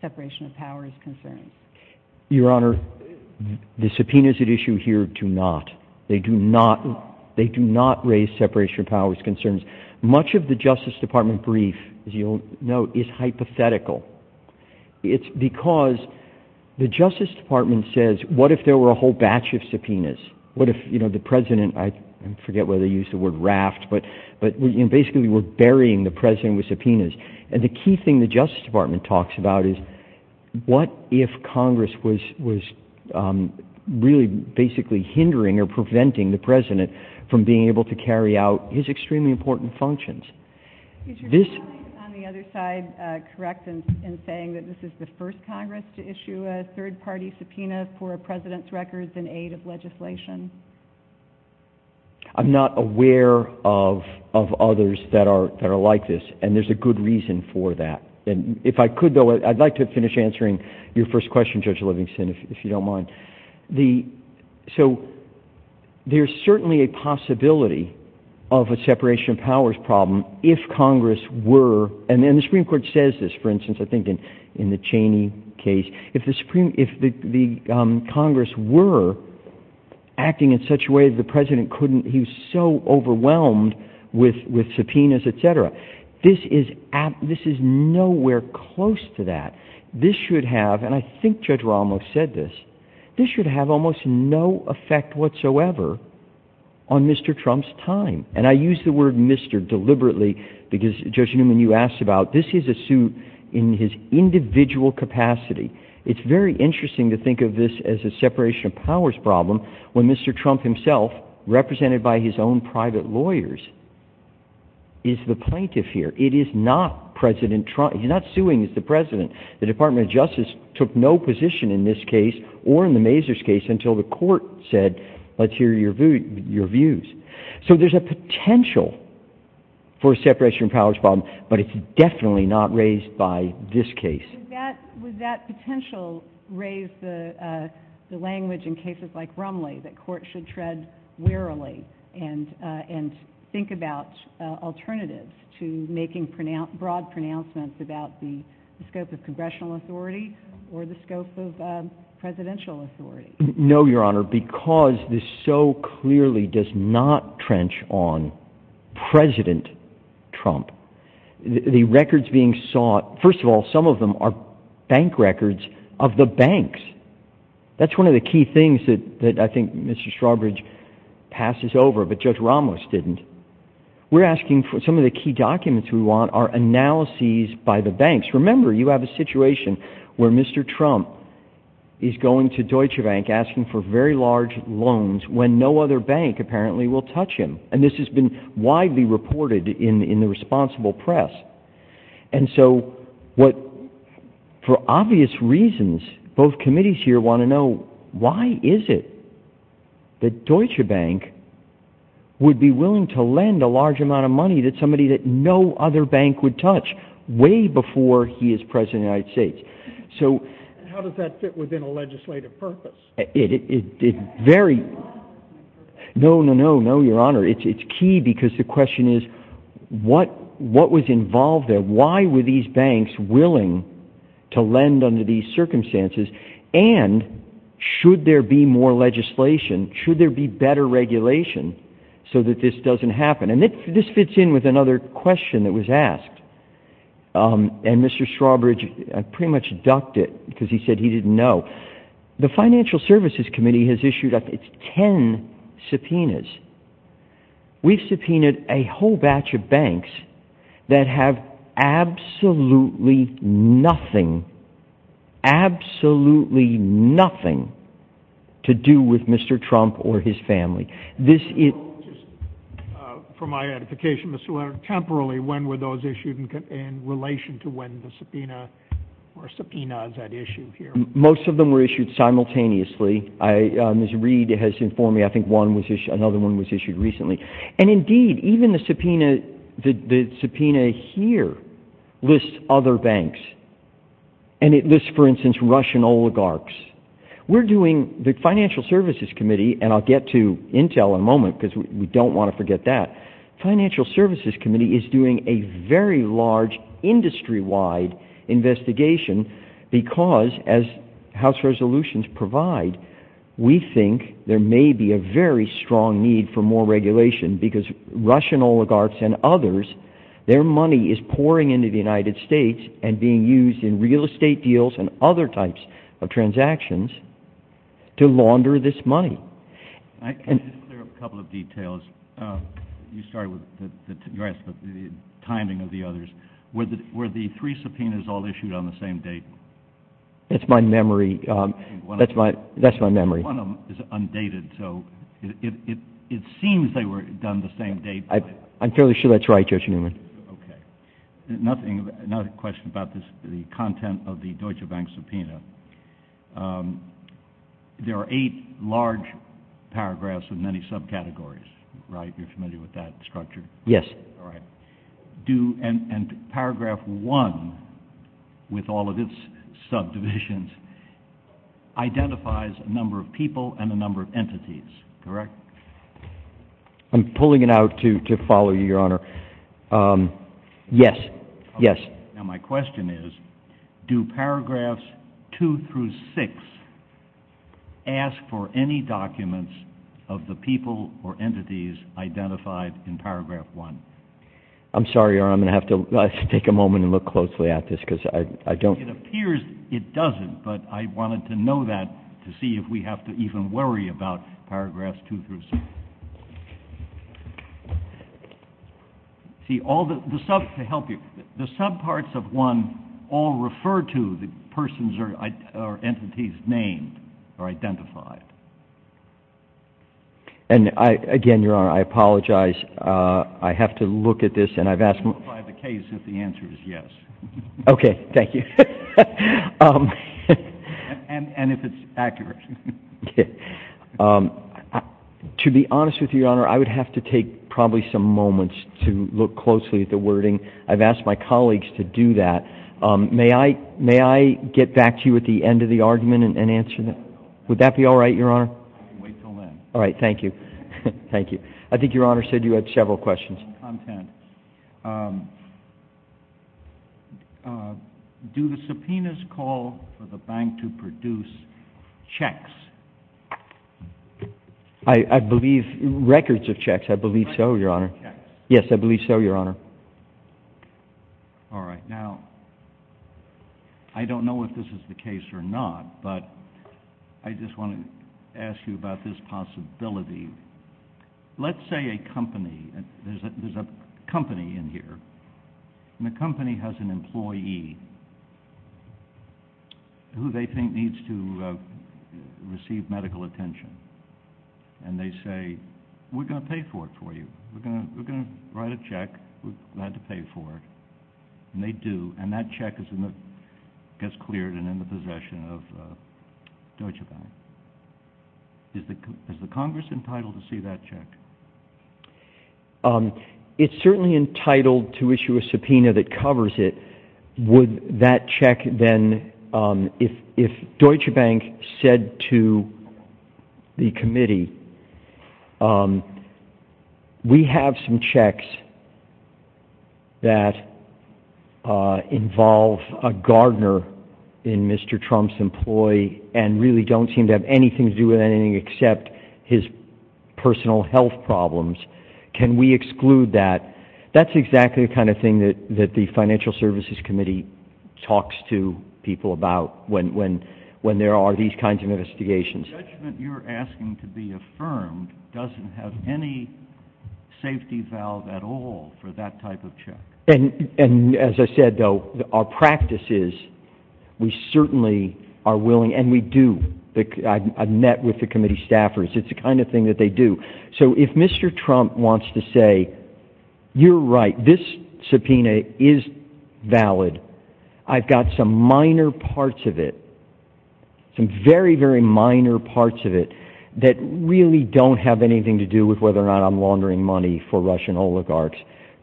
separation of powers concerns? Your Honor, the subpoenas at issue here do not. They do not raise separation of powers concerns. Much of the Justice Department brief, as you'll note, is hypothetical. It's because the Justice Department says, what if there were a whole batch of subpoenas? What if, you know, the President—I forget whether they use the word raft, but basically we're burying the President with subpoenas. And the key thing the Justice Department talks about is, what if Congress was really basically hindering or preventing the President from being able to carry out his extremely important functions? Is your comment on the other side correct in saying that this is the first Congress to issue a third party subpoena for a President's records in aid of legislation? I'm not aware of others that are like this, and there's a good reason for that. And if I could, though, I'd like to finish answering your first question, Judge Livingston, if you don't mind. So there's certainly a possibility of a separation of powers problem if Congress were— and the Supreme Court says this, for instance, I think in the Cheney case— if the Congress were acting in such a way that the President couldn't— he was so overwhelmed with subpoenas, et cetera. This is nowhere close to that. This should have—and I think Judge Ramos said this— this should have almost no effect whatsoever on Mr. Trump's time. And I use the word Mr. deliberately because, Judge Newman, you asked about, this is a suit in his individual capacity. It's very interesting to think of this as a separation of powers problem when Mr. Trump himself, represented by his own private lawyers, is the plaintiff here. It is not President Trump. He's not suing the President. The Department of Justice took no position in this case or in the Mazars case until the court said, let's hear your views. So there's a potential for a separation of powers problem, but it's definitely not raised by this case. Would that potential raise the language in cases like Brumley, that courts should tread warily and think about alternatives to making broad pronouncements about the scope of congressional authority or the scope of presidential authority? No, Your Honor, because this so clearly does not trench on President Trump. The records being sought, first of all, some of them are bank records of the banks. That's one of the key things that I think Mr. Strawbridge passes over, but Judge Ramos didn't. We're asking for some of the key documents we want are analyses by the banks. Remember, you have a situation where Mr. Trump is going to Deutsche Bank asking for very large loans when no other bank apparently will touch him. And this has been widely reported in the responsible press. And so, for obvious reasons, both committees here want to know, why is it that Deutsche Bank would be willing to lend a large amount of money to somebody that no other bank would touch way before he is President of the United States? How does that fit within a legislative purpose? No, Your Honor, it's key because the question is, what was involved there? Why were these banks willing to lend under these circumstances? And should there be more legislation? Should there be better regulation so that this doesn't happen? And this fits in with another question that was asked. And Mr. Strawbridge pretty much ducked it because he said he didn't know. The Financial Services Committee has issued, I think, ten subpoenas. We've subpoenaed a whole batch of banks that have absolutely nothing, absolutely nothing to do with Mr. Trump or his family. For my edification, temporarily, when were those issued in relation to when the subpoena or subpoena is at issue here? Most of them were issued simultaneously. Ms. Reed has informed me, I think, another one was issued recently. And indeed, even the subpoena here lists other banks. And it lists, for instance, Russian oligarchs. We're doing, the Financial Services Committee, and I'll get to Intel in a moment because we don't want to forget that. The Financial Services Committee is doing a very large industry-wide investigation because, as House resolutions provide, we think there may be a very strong need for more regulation because Russian oligarchs and others, their money is pouring into the United States and being used in real estate deals and other types of transactions to launder this money. I can just clear up a couple of details. You started with the timing of the others. Were the three subpoenas all issued on the same date? That's my memory. One of them is undated, so it seems they were done the same date. I'm fairly sure that's right, Judge Newman. Okay. Another question about the content of the Deutsche Bank subpoena. There are eight large paragraphs in many subcategories, right? You're familiar with that structure? Yes. All right. Paragraph 1, with all of its subdivisions, identifies a number of people and a number of entities, correct? I'm pulling it out to follow you, Your Honor. Yes, yes. My question is, do paragraphs 2 through 6 ask for any documents of the people or entities identified in paragraph 1? I'm sorry, Your Honor, I'm going to have to take a moment and look closely at this because I don't... It appears it doesn't, but I wanted to know that to see if we have to even worry about paragraphs 2 through 6. The subparts of 1 all refer to the persons or entities named or identified. Again, Your Honor, I apologize. I have to look at this and I've asked... If I have a case, if the answer is yes. Okay, thank you. And if it's accurate. To be honest with you, Your Honor, I would have to take probably some moments to look closely at the wording. I've asked my colleagues to do that. May I get back to you at the end of the argument and answer that? Would that be all right, Your Honor? I can wait until then. All right, thank you. Thank you. I think Your Honor said you had several questions. Okay. Do the subpoenas call for the bank to produce checks? I believe records of checks. I believe so, Your Honor. Records of checks. Yes, I believe so, Your Honor. All right. Now, I don't know if this is the case or not, but I just want to ask you about this possibility. Let's say a company, there's a company in here, and the company has an employee who they think needs to receive medical attention. And they say, we're going to pay for it for you. We're going to write a check. We're glad to pay for it. And they do. And that check gets cleared and in the possession of Deutsche Bank. Is the Congress entitled to see that check? It's certainly entitled to issue a subpoena that covers it. Would that check then, if Deutsche Bank said to the committee, we have some checks that involve a gardener in Mr. Trump's employee and really don't seem to have anything to do with anything except his personal health problems. Can we exclude that? That's exactly the kind of thing that the Financial Services Committee talks to people about when there are these kinds of investigations. The judgment you're asking to be affirmed doesn't have any safety valve at all for that type of check. And as I said, though, our practice is we certainly are willing, and we do. I've met with the committee staffers. It's the kind of thing that they do. So if Mr. Trump wants to say, you're right, this subpoena is valid. I've got some minor parts of it, some very, very minor parts of it, that really don't have anything to do with whether or not I'm laundering money for Russian oligarchs.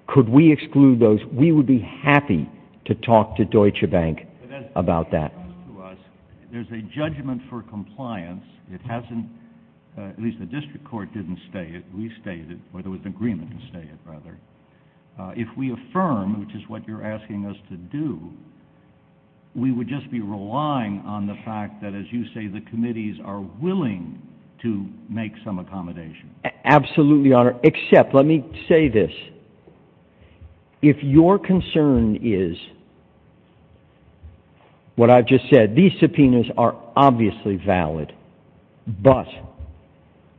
Could we exclude those? We would be happy to talk to Deutsche Bank about that. There's a judgment for compliance. At least the district court didn't state it. We've stated it, but it was the agreement that stated it, rather. If we affirm, which is what you're asking us to do, we would just be relying on the fact that, as you say, the committees are willing to make some accommodation. Absolutely, Your Honor, except let me say this. If your concern is what I've just said, these subpoenas are obviously valid, but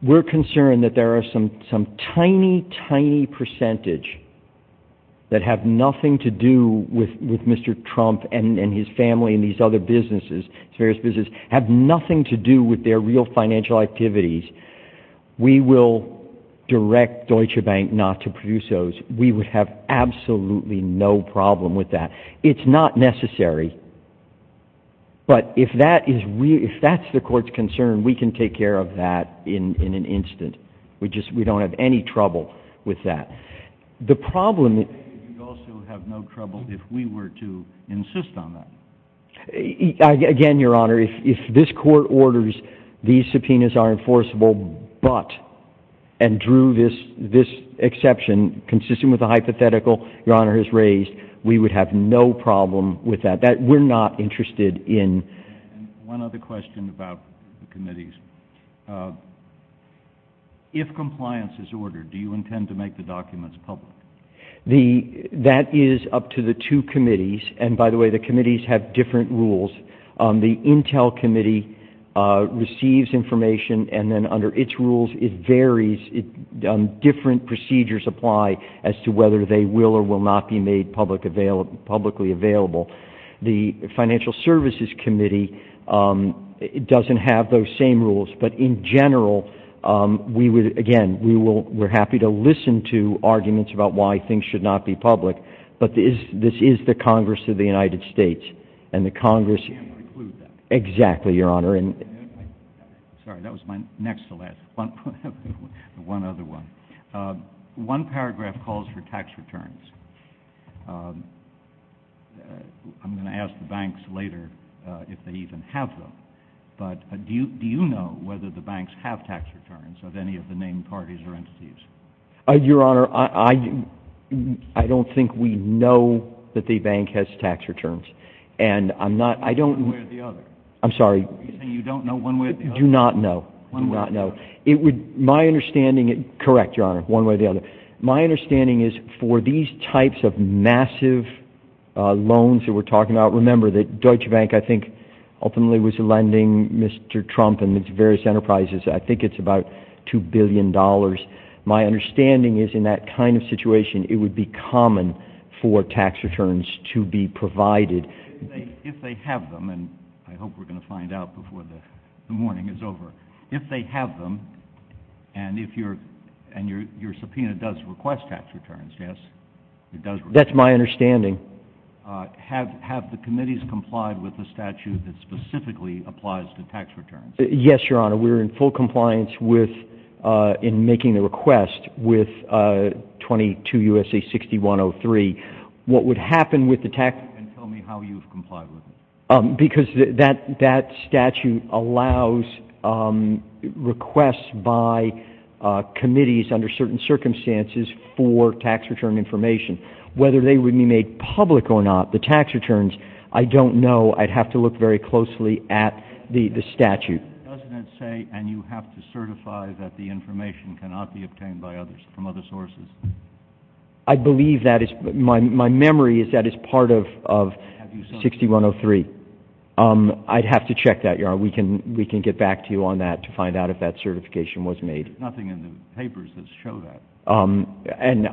we're concerned that there are some tiny, tiny percentage that have nothing to do with Mr. Trump and his family and these other businesses, various businesses, have nothing to do with their real financial activities, we will direct Deutsche Bank not to produce those. We would have absolutely no problem with that. It's not necessary, but if that's the court's concern, we can take care of that in an instant. We don't have any trouble with that. The problem is... You'd also have no trouble if we were to insist on that. Again, Your Honor, if this court orders these subpoenas are enforceable, but, and drew this exception consistent with the hypothetical Your Honor has raised, we would have no problem with that. We're not interested in... One other question about the committees. If compliance is ordered, do you intend to make the documents public? That is up to the two committees. And, by the way, the committees have different rules. The Intel Committee receives information, and then under its rules it varies. Different procedures apply as to whether they will or will not be made publicly available. The Financial Services Committee doesn't have those same rules, but in general, again, we're happy to listen to arguments about why things should not be public, but this is the Congress of the United States, and the Congress... Exactly, Your Honor. Sorry, that was my next to last. One other one. One paragraph calls for tax returns. I'm going to ask the banks later if they even have them, but do you know whether the banks have tax returns of any of the named parties or entities? Your Honor, I don't think we know that the bank has tax returns. And I'm not... One way or the other. I'm sorry. You're saying you don't know one way or the other. Do not know. One way or the other. My understanding... Correct, Your Honor, one way or the other. My understanding is for these types of massive loans that we're talking about, remember that Deutsche Bank, I think, ultimately was lending Mr. Trump and its various enterprises, I think it's about $2 billion. My understanding is in that kind of situation, it would be common for tax returns to be provided. If they have them, and I hope we're going to find out before the morning is over, if they have them, and your subpoena does request tax returns, yes? That's my understanding. Have the committees complied with the statute that specifically applies to tax returns? Yes, Your Honor. We're in full compliance in making the request with 22 U.S.C. 6103. What would happen with the tax... And tell me how you've complied with it. Because that statute allows requests by committees under certain circumstances for tax return information. Whether they would make public or not the tax returns, I don't know. I'd have to look very closely at the statute. Doesn't it say, and you have to certify that the information cannot be obtained by others, from other sources? I believe that is, my memory is that is part of 6103. I'd have to check that, Your Honor. We can get back to you on that to find out if that certification was made. There's nothing in the papers that show that. And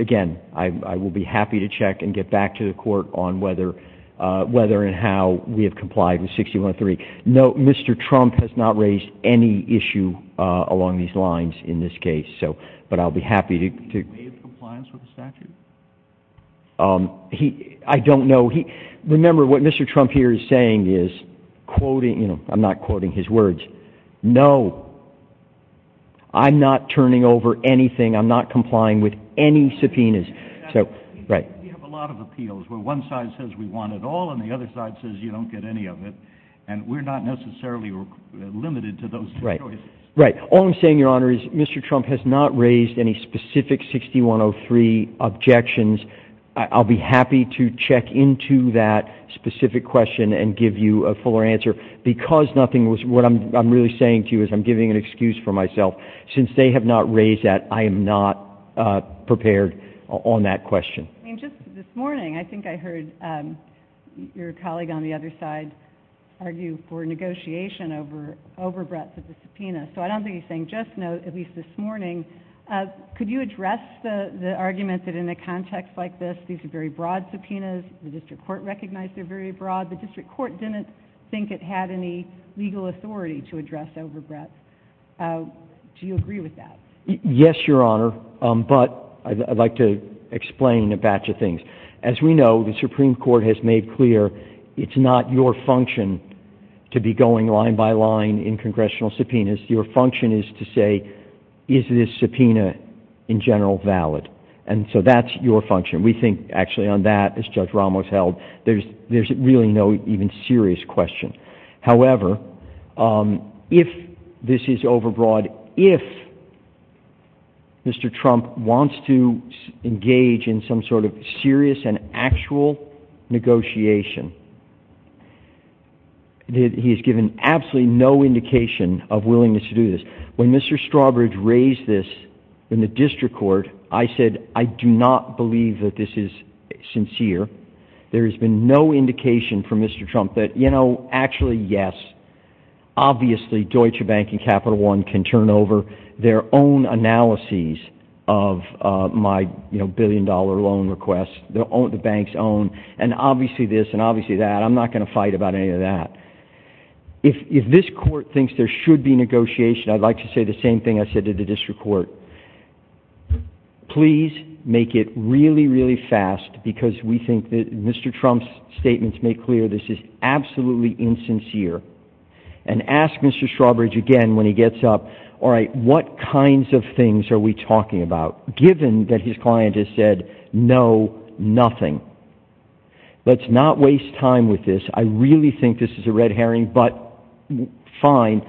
again, I will be happy to check and get back to the court on whether and how we have complied with 6103. No, Mr. Trump has not raised any issue along these lines in this case. But I'll be happy to... Did he make compliance with the statute? I don't know. Remember, what Mr. Trump here is saying is, I'm not quoting his words, No. I'm not turning over anything. I'm not complying with any subpoenas. You have a lot of appeals where one side says we want it all and the other side says you don't get any of it. And we're not necessarily limited to those choices. Right. All I'm saying, Your Honor, is Mr. Trump has not raised any specific 6103 objections. I'll be happy to check into that specific question and give you a fuller answer. Because nothing was... What I'm really saying to you is I'm giving an excuse for myself. Since they have not raised that, I am not prepared on that question. And just this morning, I think I heard your colleague on the other side argue for negotiation over breadth of the subpoena. So I don't think he's saying just no, at least this morning. Could you address the argument that in a context like this, these are very broad subpoenas. The district court recognized they're very broad. The district court didn't think it had any legal authority to address over breadth. Do you agree with that? Yes, Your Honor. But I'd like to explain a batch of things. As we know, the Supreme Court has made clear it's not your function to be going line by line in congressional subpoenas. Your function is to say, is this subpoena in general valid? And so that's your function. We think actually on that, as Judge Ramos held, there's really no even serious question. However, if this is over broad, if Mr. Trump wants to engage in some sort of serious and actual negotiation, he has given absolutely no indication of willingness to do this. When Mr. Strawbridge raised this in the district court, I said, I do not believe that this is sincere. There has been no indication from Mr. Trump that, you know, actually, yes, obviously, Deutsche Bank and Capital One can turn over their own analyses of my billion dollar loan request, the bank's own, and obviously this and obviously that. I'm not going to fight about any of that. If this court thinks there should be negotiation, I'd like to say the same thing I said to the district court. Please make it really, really fast because we think that Mr. Trump's statements make clear this is absolutely insincere. And ask Mr. Strawbridge again when he gets up, all right, what kinds of things are we talking about, given that his client has said, no, nothing. Let's not waste time with this. I really think this is a red herring, but fine.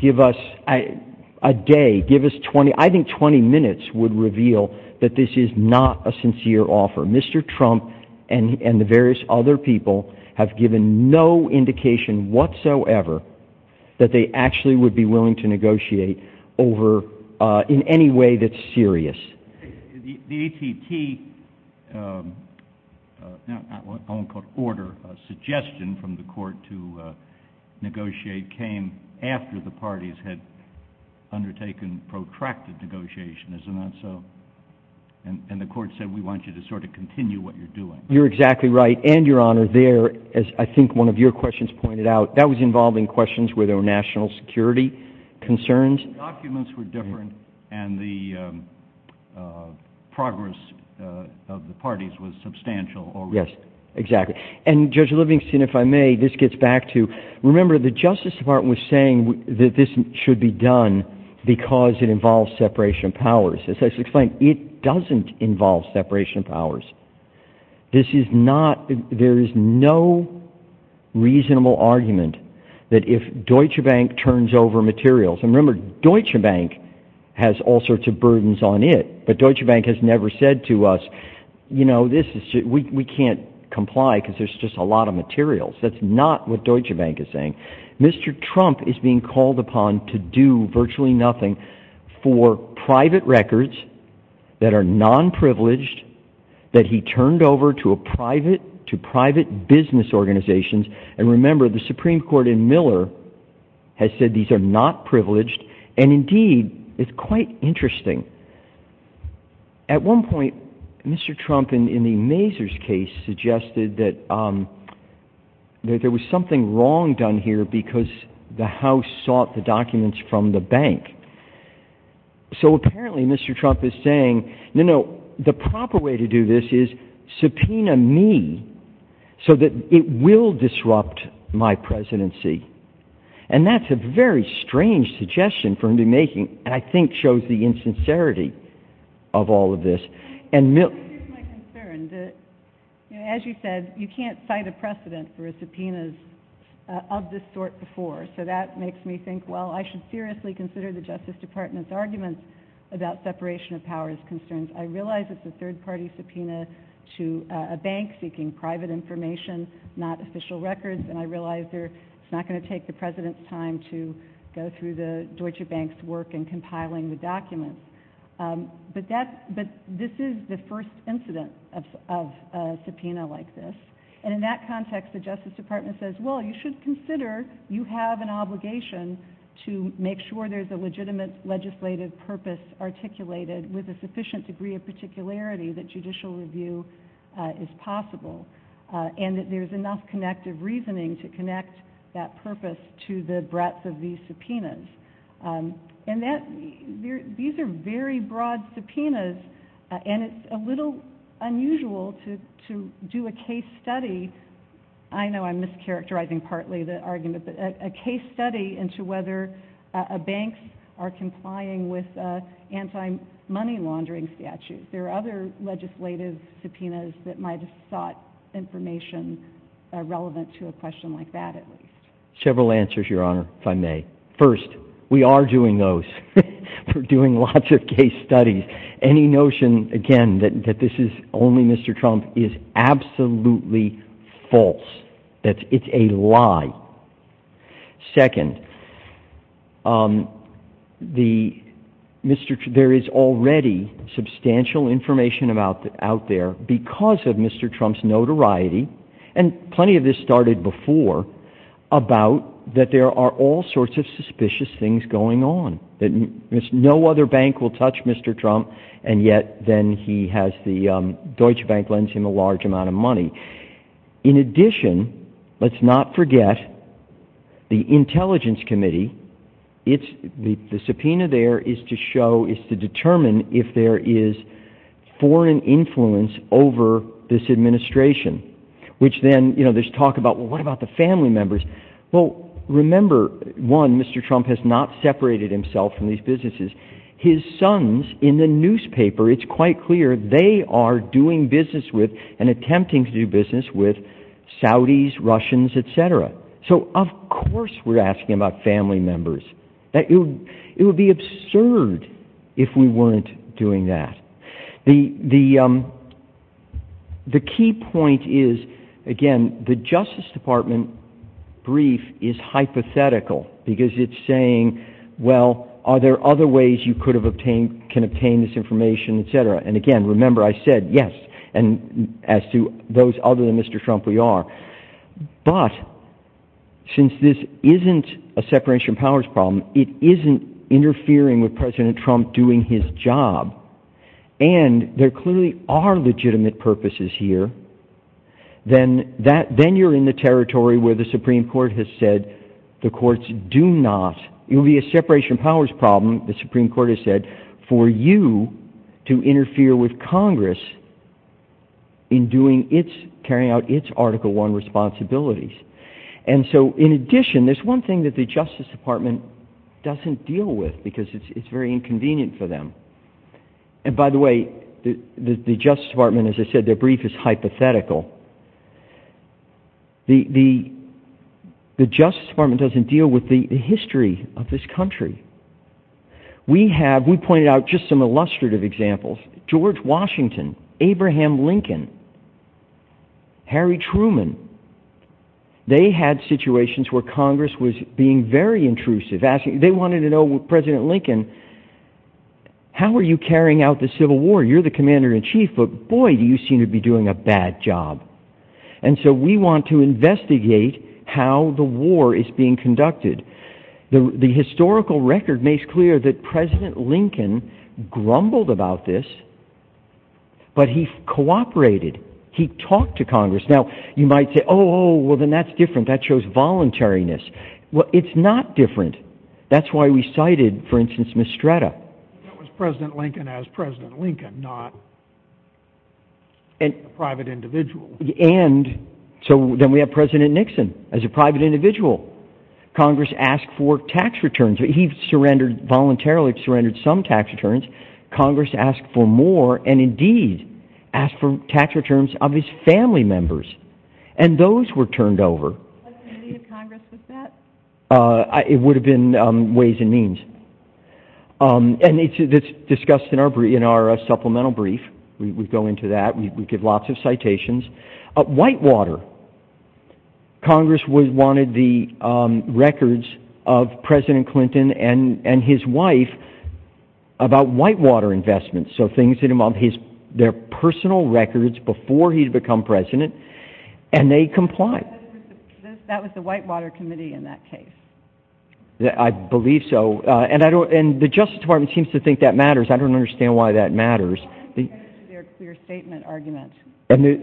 Give us a day, give us 20, I think 20 minutes would reveal that this is not a sincere offer. Mr. Trump and the various other people have given no indication whatsoever that they actually would be willing to negotiate over in any way that's serious. The ATT order suggestion from the court to negotiate came after the parties had undertaken protracted negotiations. And the court said we want you to sort of continue what you're doing. You're exactly right. And, Your Honor, there, as I think one of your questions pointed out, that was involving questions where there were national security concerns. The documents were different and the progress of the parties was substantial. Yes, exactly. And, Judge Livingston, if I may, this gets back to, remember the Justice Department was saying that this should be done because it involves separation of powers. As I explained, it doesn't involve separation of powers. This is not, there is no reasonable argument that if Deutsche Bank turns over materials, and remember Deutsche Bank has all sorts of burdens on it, but Deutsche Bank has never said to us, you know, we can't comply because there's just a lot of materials. That's not what Deutsche Bank is saying. Mr. Trump is being called upon to do virtually nothing for private records that are non-privileged that he turned over to private business organizations. And, remember, the Supreme Court in Miller has said these are not privileged. And, indeed, it's quite interesting. At one point, Mr. Trump, in the Mazars case, suggested that there was something wrong done here because the House sought the documents from the bank. So, apparently, Mr. Trump is saying, you know, the proper way to do this is subpoena me so that it will disrupt my presidency. And that's a very strange suggestion for him to be making, and I think shows the insincerity of all of this. Here's my concern. As you said, you can't cite a precedent for a subpoena of this sort before. So that makes me think, well, I should seriously consider the Justice Department's argument about separation of powers concerns. I realize it's a third-party subpoena to a bank seeking private information, not official records. And I realize it's not going to take the President's time to go through the Deutsche Bank's work in compiling the documents. But this is the first incident of a subpoena like this. And in that context, the Justice Department says, well, you should consider you have an obligation to make sure there's a legitimate legislative purpose articulated with a sufficient degree of particularity that judicial review is possible and that there's enough connective reasoning to connect that purpose to the breadth of these subpoenas. And these are very broad subpoenas, and it's a little unusual to do a case study. I know I'm mischaracterizing partly the argument, but a case study into whether banks are complying with anti-money laundering statutes. There are other legislative subpoenas that might have sought information relevant to a question like that, at least. Several answers, Your Honor, if I may. First, we are doing those. We're doing lots of case studies. And any notion, again, that this is only Mr. Trump is absolutely false. It's a lie. Second, there is already substantial information out there because of Mr. Trump's notoriety, and plenty of this started before, about that there are all sorts of suspicious things going on. No other bank will touch Mr. Trump, and yet Deutsche Bank lends him a large amount of money. In addition, let's not forget the Intelligence Committee. The subpoena there is to determine if there is foreign influence over this administration, which then there's talk about, well, what about the family members? Well, remember, one, Mr. Trump has not separated himself from these businesses. His sons, in the newspaper, it's quite clear they are doing business with and attempting to do business with Saudis, Russians, etc. So, of course, we're asking about family members. It would be absurd if we weren't doing that. The key point is, again, the Justice Department brief is hypothetical, because it's saying, well, are there other ways you could have obtained, can obtain this information, etc.? And again, remember, I said yes, and as to those other than Mr. Trump, we are. But since this isn't a separation of powers problem, it isn't interfering with President Trump doing his job. And there clearly are legitimate purposes here. Then you're in the territory where the Supreme Court has said the courts do not, it would be a separation of powers problem, the Supreme Court has said, for you to interfere with Congress in carrying out its Article I responsibilities. And so, in addition, there's one thing that the Justice Department doesn't deal with, because it's very inconvenient for them. And by the way, the Justice Department, as I said, their brief is hypothetical. The Justice Department doesn't deal with the history of this country. We have, we pointed out just some illustrative examples. George Washington, Abraham Lincoln, Harry Truman, they had situations where Congress was being very intrusive. They wanted to know, President Lincoln, how are you carrying out the Civil War? You're the Commander-in-Chief, but boy, do you seem to be doing a bad job. And so we want to investigate how the war is being conducted. The historical record makes clear that President Lincoln grumbled about this, but he cooperated, he talked to Congress. Now, you might say, oh, well then that's different, that shows voluntariness. Well, it's not different. That's why we cited, for instance, Mistretta. It was President Lincoln as President Lincoln, not a private individual. And, so then we have President Nixon as a private individual. Congress asked for tax returns. He surrendered voluntarily, surrendered some tax returns. Congress asked for more, and indeed, asked for tax returns of his family members. And those were turned over. Did Congress look at that? It would have been Ways and Means. And it's discussed in our supplemental brief. We go into that, we give lots of citations. Whitewater. Congress wanted the records of President Clinton and his wife about whitewater investments, so things that involve their personal records before he had become President, and they complied. That was the Whitewater Committee in that case. I believe so. And the Justice Department seems to think that matters. I don't understand why that matters. Their clear statement argument. Their clear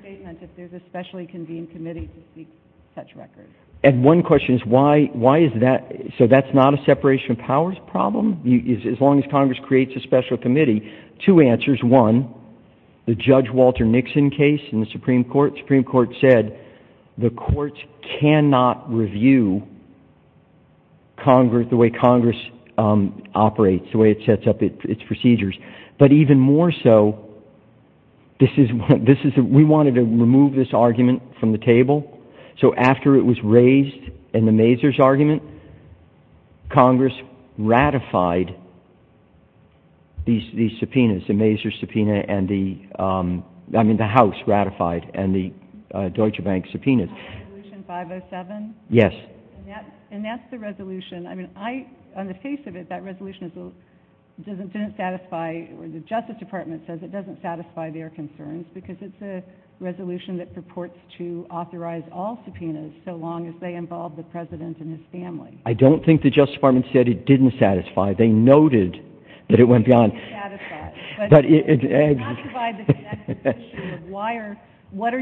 statement that there's a specially convened committee to seek such records. And one question is why is that? So that's not a separation of powers problem? As long as Congress creates a special committee. Two answers. One, the Judge Walter Nixon case in the Supreme Court. The Supreme Court said the courts cannot review the way Congress operates, the way it sets up its procedures. But even more so, we wanted to remove this argument from the table. So after it was raised in the Mazur's argument, Congress ratified these subpoenas. The Mazur subpoena and the House ratified and the Deutsche Bank subpoenaed. Resolution 507? Yes. And that's the resolution. I mean, on the face of it, that resolution doesn't satisfy or the Justice Department says it doesn't satisfy their concerns because it's a resolution that purports to authorize all subpoenas so long as they involve the President and his family. I don't think the Justice Department said it didn't satisfy. They noted that it went beyond. But it did. What are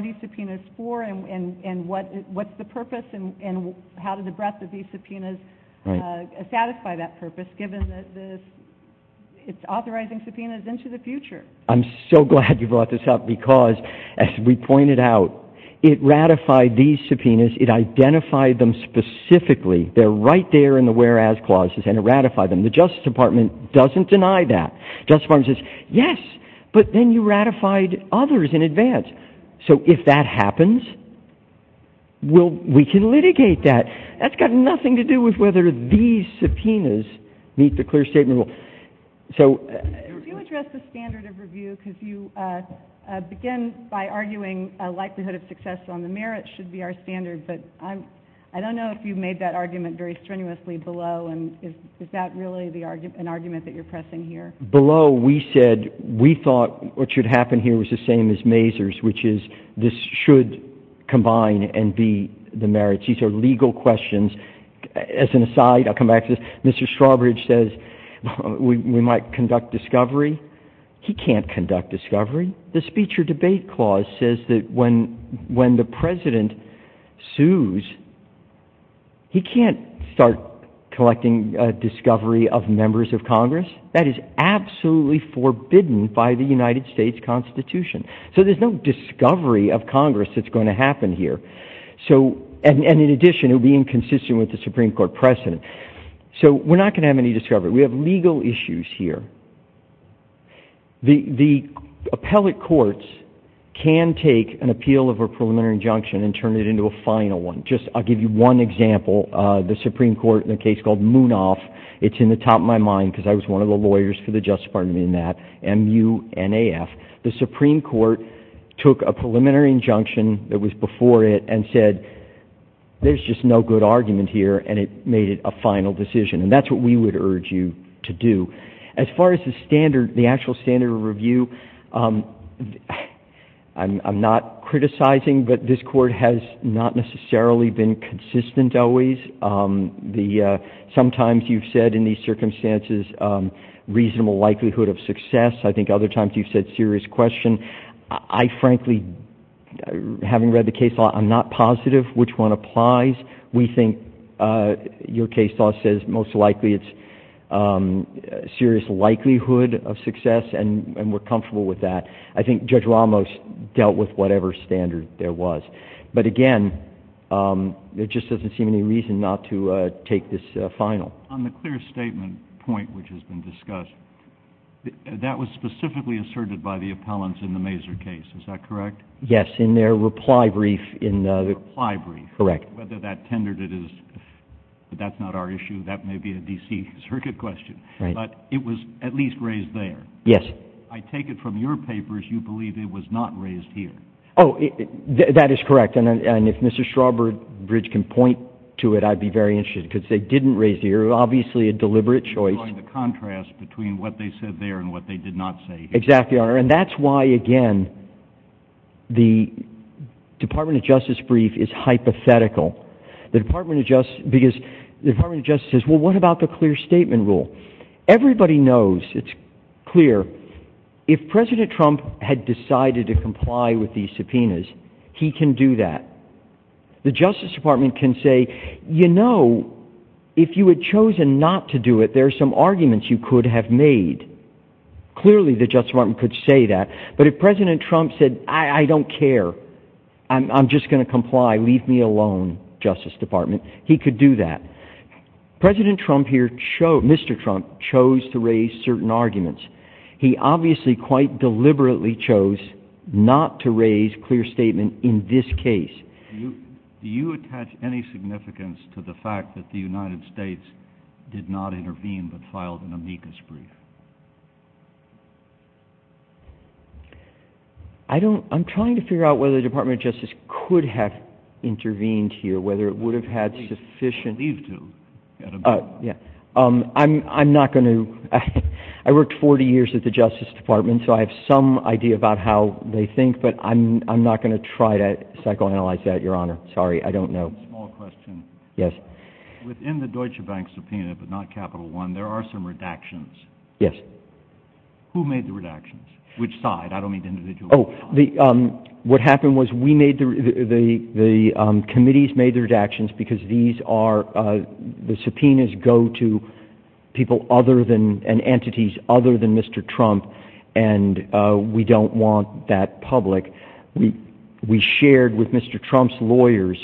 these subpoenas for and what's the purpose and how did the breadth of these subpoenas satisfy that purpose given that it's authorizing subpoenas into the future? I'm so glad you brought this up because, as we pointed out, it ratified these subpoenas. It identified them specifically. They're right there in the whereas clauses and it ratified them. The Justice Department doesn't deny that. The Justice Department says, yes, but then you ratified others in advance. So if that happens, we can litigate that. That's got nothing to do with whether these subpoenas meet the clear statement rule. If you address the standard of review because you begin by arguing a likelihood of success on the merits should be our standard, but I don't know if you've made that argument very strenuously below. Is that really an argument that you're pressing here? Below, we said we thought what should happen here was the same as Mazur's, which is this should combine and be the merits. These are legal questions. As an aside, I'll come back to this. Mr. Strawbridge says we might conduct discovery. He can't conduct discovery. The speech or debate clause says that when the president sues, he can't start collecting discovery of members of Congress. That is absolutely forbidden by the United States Constitution. So there's no discovery of Congress that's going to happen here. And in addition, it would be inconsistent with the Supreme Court precedent. So we're not going to have any discovery. We have legal issues here. The appellate courts can take an appeal of a preliminary injunction and turn it into a final one. I'll give you one example. The Supreme Court in a case called Munaf. It's in the top of my mind because I was one of the lawyers for the Justice Department in that, M-U-N-A-F. The Supreme Court took a preliminary injunction that was before it and said there's just no good argument here, and it made it a final decision, and that's what we would urge you to do. As far as the standard, the actual standard of review, I'm not criticizing, but this court has not necessarily been consistent always. Sometimes you've said in these circumstances reasonable likelihood of success. I think other times you've said serious question. I frankly, having read the case law, I'm not positive which one applies. We think your case law says most likely it's serious likelihood of success, and we're comfortable with that. I think Judge Ramos dealt with whatever standard there was. But again, there just doesn't seem to be any reason not to take this final. On the clear statement point which has been discussed, that was specifically asserted by the appellants in the Mazur case. Is that correct? Yes, in their reply brief. Correct. Whether that tendered it is, that's not our issue. That may be a D.C. Circuit question. Right. But it was at least raised there. Yes. I take it from your papers you believe it was not raised here. Oh, that is correct, and if Mr. Strawbridge can point to it, I'd be very interested, because they didn't raise it here. Obviously a deliberate choice. By the contrast between what they said there and what they did not say here. Exactly, and that's why, again, the Department of Justice brief is hypothetical. The Department of Justice says, well, what about the clear statement rule? Everybody knows it's clear. If President Trump had decided to comply with these subpoenas, he can do that. The Justice Department can say, you know, if you had chosen not to do it, there are some arguments you could have made. Clearly the Justice Department could say that. But if President Trump said, I don't care, I'm just going to comply, leave me alone, Justice Department, he could do that. President Trump here, Mr. Trump, chose to raise certain arguments. He obviously quite deliberately chose not to raise clear statement in this case. Do you attach any significance to the fact that the United States did not intervene but filed an amicus brief? I don't, I'm trying to figure out whether the Department of Justice could have intervened here, whether it would have had sufficient I'm not going to, I worked 40 years at the Justice Department, so I have some idea about how they think. But I'm not going to try to psychoanalyze that, Your Honor. Sorry, I don't know. Small question. Yes. Within the Deutsche Bank subpoena, but not Capital One, there are some redactions. Yes. Who made the redactions? Which side? I don't mean the individual side. What happened was we made the, the committees made the redactions because these are, the subpoenas go to people other than, and entities other than Mr. Trump, and we don't want that public. We shared with Mr. Trump's lawyers,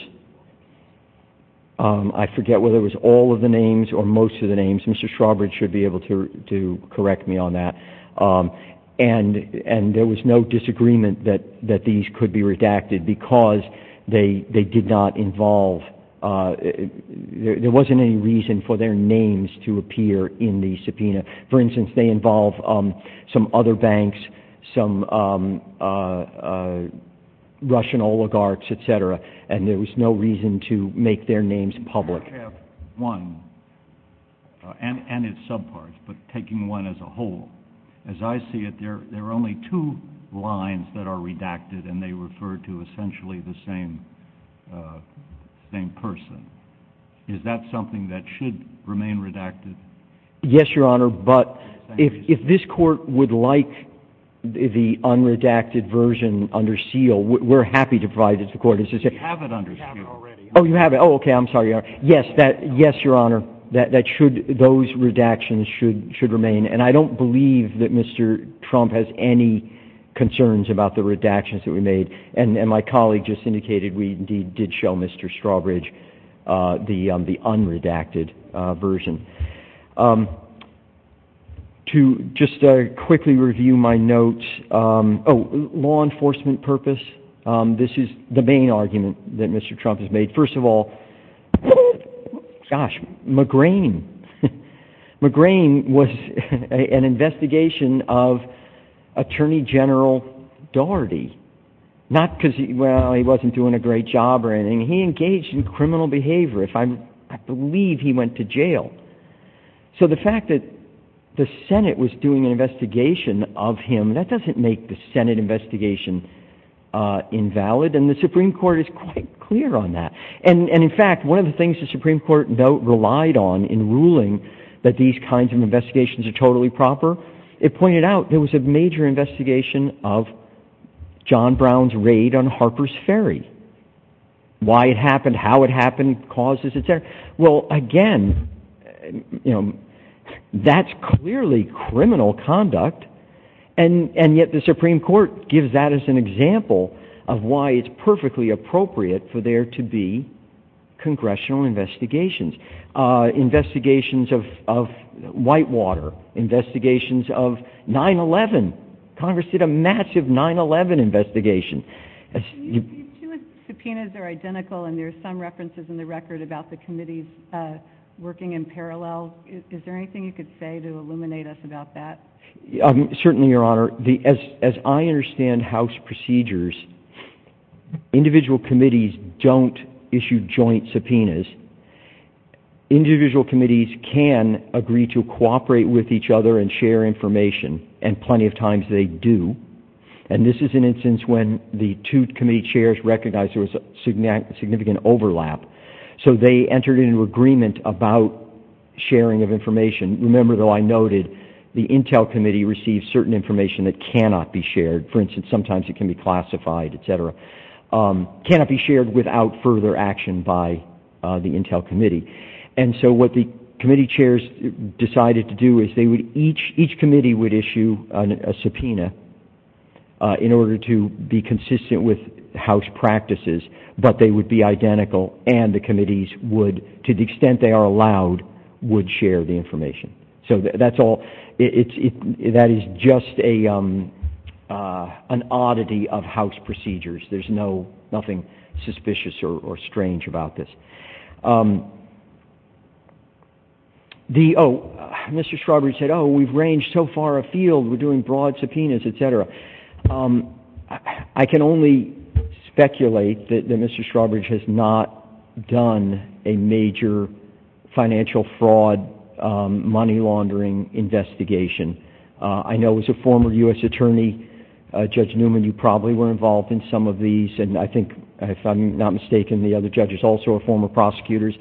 I forget whether it was all of the names or most of the names, Mr. Schroberg should be able to correct me on that. And there was no disagreement that these could be redacted because they did not involve, there wasn't any reason for their names to appear in the subpoena. For instance, they involve some other banks, some Russian oligarchs, etc., and there was no reason to make their names public. I have one, and it's subpar, but taking one as a whole, as I see it, there are only two lines that are redacted and they refer to essentially the same, same person. Is that something that should remain redacted? Yes, Your Honor, but if this court would like the unredacted version under seal, we're happy to provide it to the court. We have it under seal. Oh, you have it. Oh, okay, I'm sorry, Your Honor. Yes, Your Honor, those redactions should remain, and I don't believe that Mr. Trump has any concerns about the redactions that we made, and my colleague just indicated we did show Mr. Schroberg the unredacted version. To just quickly review my notes, law enforcement purpose, this is the main argument that Mr. Trump has made. First of all, gosh, McGrane. McGrane was an investigation of Attorney General Daugherty, not because, well, he wasn't doing a great job or anything. He engaged in criminal behavior. I believe he went to jail. So the fact that the Senate was doing an investigation of him, that doesn't make the Senate investigation invalid, and the Supreme Court is quite clear on that. And, in fact, one of the things the Supreme Court relied on in ruling that these kinds of investigations are totally proper, it pointed out there was a major investigation of John Brown's raid on Harper's Ferry. Why it happened, how it happened, causes, et cetera. Well, again, that's clearly criminal conduct, and yet the Supreme Court gives that as an example of why it's perfectly appropriate for there to be congressional investigations. Investigations of Whitewater, investigations of 9-11. Congress did a massive 9-11 investigation. The subpoenas are identical, and there are some references in the record about the committees working in parallel. Is there anything you could say to illuminate us about that? Certainly, Your Honor. As I understand House procedures, individual committees don't issue joint subpoenas. Individual committees can agree to cooperate with each other and share information, and plenty of times they do. And this is an instance when the two committee chairs recognized there was a significant overlap, so they entered into agreement about sharing of information. Remember, though, I noted the Intel Committee receives certain information that cannot be shared. For instance, sometimes it can be classified, et cetera. It cannot be shared without further action by the Intel Committee. And so what the committee chairs decided to do is each committee would issue a subpoena in order to be consistent with House practices, but they would be identical and the committees would, to the extent they are allowed, would share the information. So that is just an oddity of House procedures. There's nothing suspicious or strange about this. Oh, Mr. Shroverage said, oh, we've ranged so far afield, we're doing broad subpoenas, et cetera. I can only speculate that Mr. Shroverage has not done a major financial fraud, money laundering investigation. I know as a former U.S. Attorney, Judge Newman, you probably were involved in some of these, and I think if I'm not mistaken the other judges also were former prosecutors.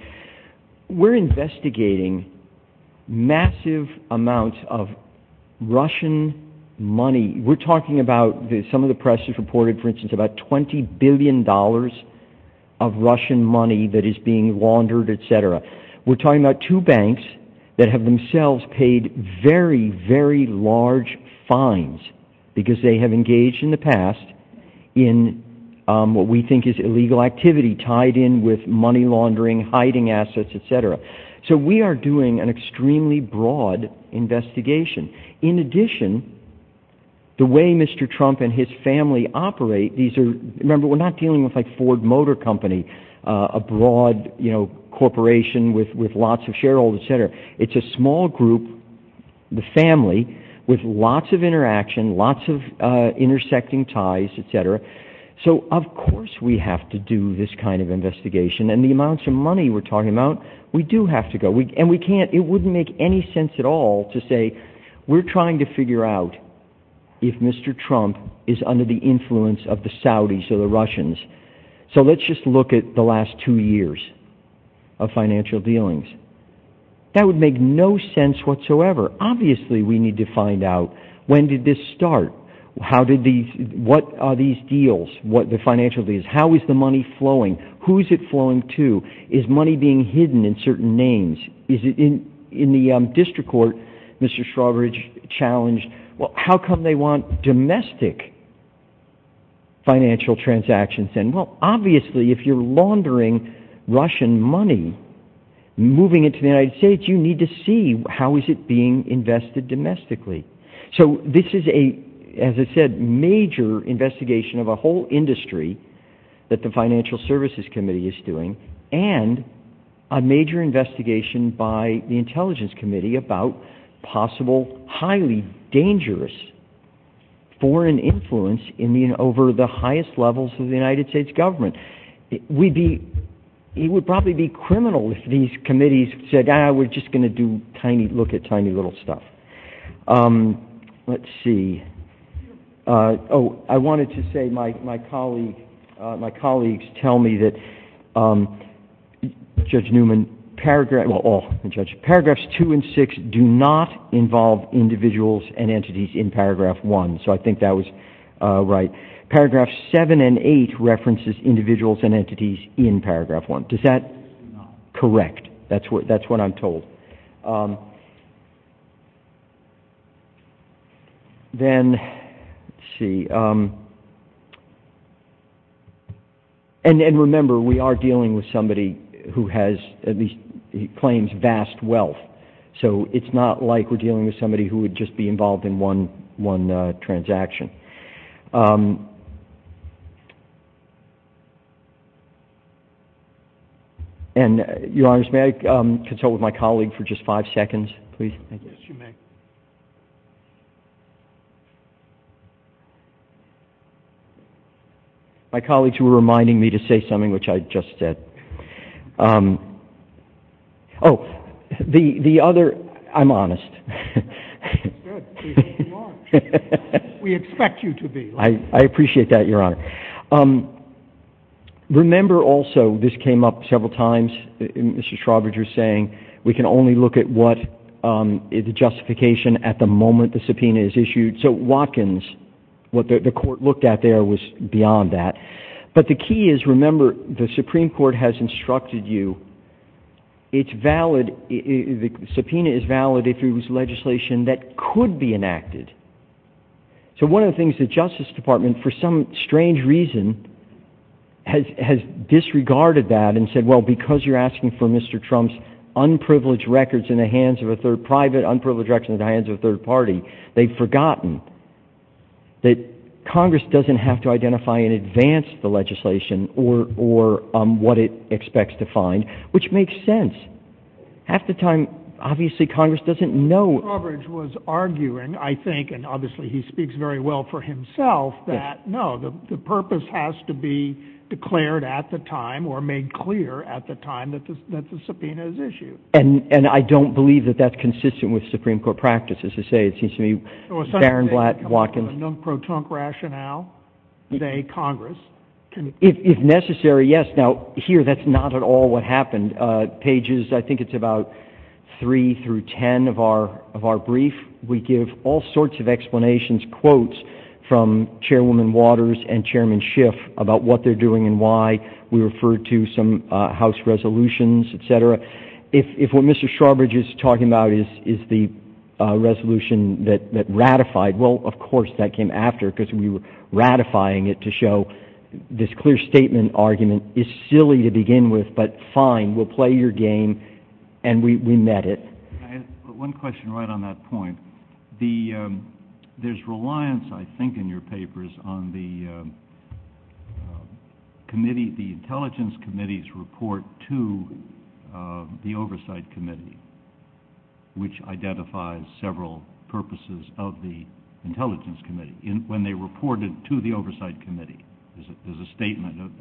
We're investigating massive amounts of Russian money. We're talking about some of the press has reported, for instance, about $20 billion of Russian money that is being laundered, et cetera. We're talking about two banks that have themselves paid very, very large fines because they have engaged in the past in what we think is illegal activity tied in with money laundering, hiding assets, et cetera. So we are doing an extremely broad investigation. In addition, the way Mr. Trump and his family operate, remember we're not dealing with like Ford Motor Company, a broad corporation with lots of shareholders, et cetera. It's a small group, the family, with lots of interaction, lots of intersecting ties, et cetera. So of course we have to do this kind of investigation, and the amounts of money we're talking about, we do have to go. It wouldn't make any sense at all to say we're trying to figure out if Mr. Trump is under the influence of the Saudis or the Russians. So let's just look at the last two years of financial dealings. That would make no sense whatsoever. Obviously we need to find out when did this start? What are these deals, the financial deals? How is the money flowing? Who is it flowing to? Is money being hidden in certain names? In the district court, Mr. Shrover challenged, well, how come they want domestic financial transactions? Well, obviously if you're laundering Russian money, moving it to the United States, you need to see how is it being invested domestically. So this is a, as I said, major investigation of a whole industry that the Financial Services Committee is doing, and a major investigation by the Intelligence Committee about possible highly dangerous foreign influence over the highest levels of the United States government. It would probably be criminal if these committees said, ah, we're just going to look at tiny little stuff. Let's see. Oh, I wanted to say my colleagues tell me that Judge Newman, paragraphs two and six do not involve individuals and entities in paragraph one. So I think that was right. Paragraphs seven and eight references individuals and entities in paragraph one. Is that correct? That's what I'm told. Then, let's see. And remember, we are dealing with somebody who has, at least he claims, vast wealth. So it's not like we're dealing with somebody who would just be involved in one transaction. And, Your Honors, may I consult with my colleague for just five seconds, please? Yes, you may. My colleagues were reminding me to say something which I just said. Oh, the other, I'm honest. We expect you to be. I appreciate that, Your Honor. Remember also, this came up several times, Mr. Schrodinger saying we can only look at what the justification at the moment the subpoena is issued. So Watkins, what the court looked at there was beyond that. But the key is, remember, the Supreme Court has instructed you it's valid, the subpoena is valid if it was legislation that could be enacted. So one of the things the Justice Department, for some strange reason, has disregarded that and said, well, because you're asking for Mr. Trump's unprivileged records in the hands of a third private, unprivileged records in the hands of a third party, they've forgotten that Congress doesn't have to identify in advance the legislation or what it expects to find, which makes sense. At the time, obviously Congress doesn't know. Coverage was arguing, I think, and obviously he speaks very well for himself, that no, the purpose has to be declared at the time or made clear at the time that the subpoena is issued. And I don't believe that that's consistent with Supreme Court practice. As I say, it seems to me, Darren Watkins... So a second thing, no pro-Trump rationale today, Congress can... If necessary, yes. Now, here that's not at all what happened. Pages, I think it's about three through ten of our brief, we give all sorts of explanations, quotes from Chairwoman Waters and Chairman Schiff about what they're doing and why. We refer to some House resolutions, etc. If what Mr. Sharbridge is talking about is the resolution that ratified, well, of course that came after because we were ratifying it to show this clear statement argument is silly to begin with, but fine, we'll play your game and we met it. Can I ask one question right on that point? There's reliance, I think, in your papers on the Intelligence Committee's report to the Oversight Committee, which identifies several purposes of the Intelligence Committee. When they reported to the Oversight Committee, there's a statement of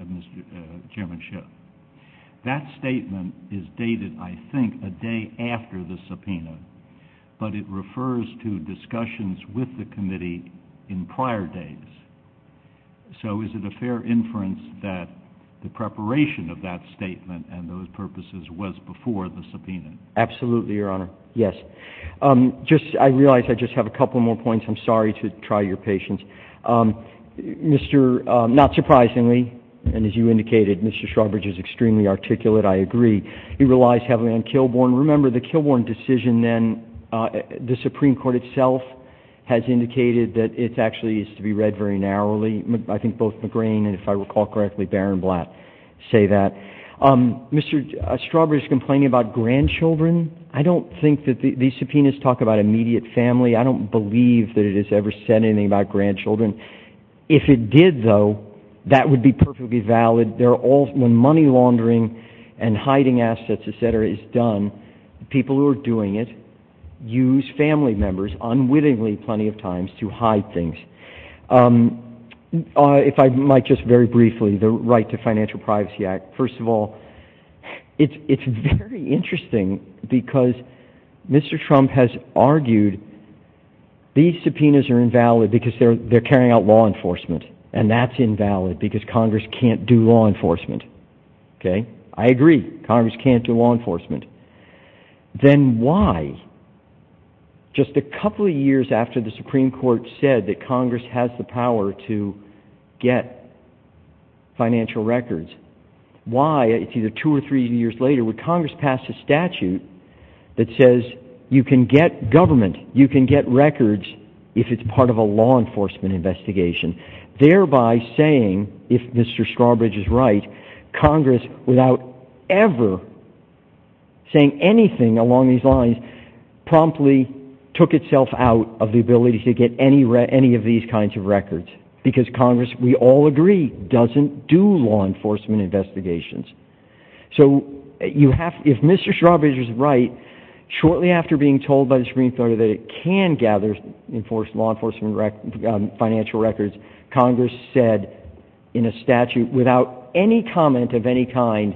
Chairman Schiff. That statement is dated, I think, a day after the subpoena, but it refers to discussions with the committee in prior dates. So is it a fair inference that the preparation of that statement and those purposes was before the subpoena? Absolutely, Your Honor. Yes. I realize I just have a couple more points. I'm sorry to try your patience. Not surprisingly, and as you indicated, Mr. Sharbridge is extremely articulate, I agree. He relies heavily on Kilbourn. Remember, the Kilbourn decision then, the Supreme Court itself has indicated that it actually needs to be read very narrowly. I think both McGrane and, if I recall correctly, Baron Blatt say that. Mr. Sharbridge is complaining about grandchildren. I don't think that these subpoenas talk about immediate family. I don't believe that it has ever said anything about grandchildren. If it did, though, that would be perfectly valid. When money laundering and hiding assets, et cetera, is done, people who are doing it use family members unwittingly plenty of times to hide things. If I might just very briefly, the right to financial privacy act. First of all, it's very interesting because Mr. Trump has argued these subpoenas are invalid because they're carrying out law enforcement, and that's invalid because Congress can't do law enforcement. I agree, Congress can't do law enforcement. Then why, just a couple of years after the Supreme Court said that Congress has the power to get financial records, why, two or three years later, would Congress pass a statute that says you can get government, you can get records if it's part of a law enforcement investigation? Thereby saying, if Mr. Sharbridge is right, Congress, without ever saying anything along these lines, promptly took itself out of the ability to get any of these kinds of records because Congress, we all agree, doesn't do law enforcement investigations. If Mr. Sharbridge is right, shortly after being told by the Supreme Court that it can gather law enforcement financial records, Congress said in a statute, without any comment of any kind,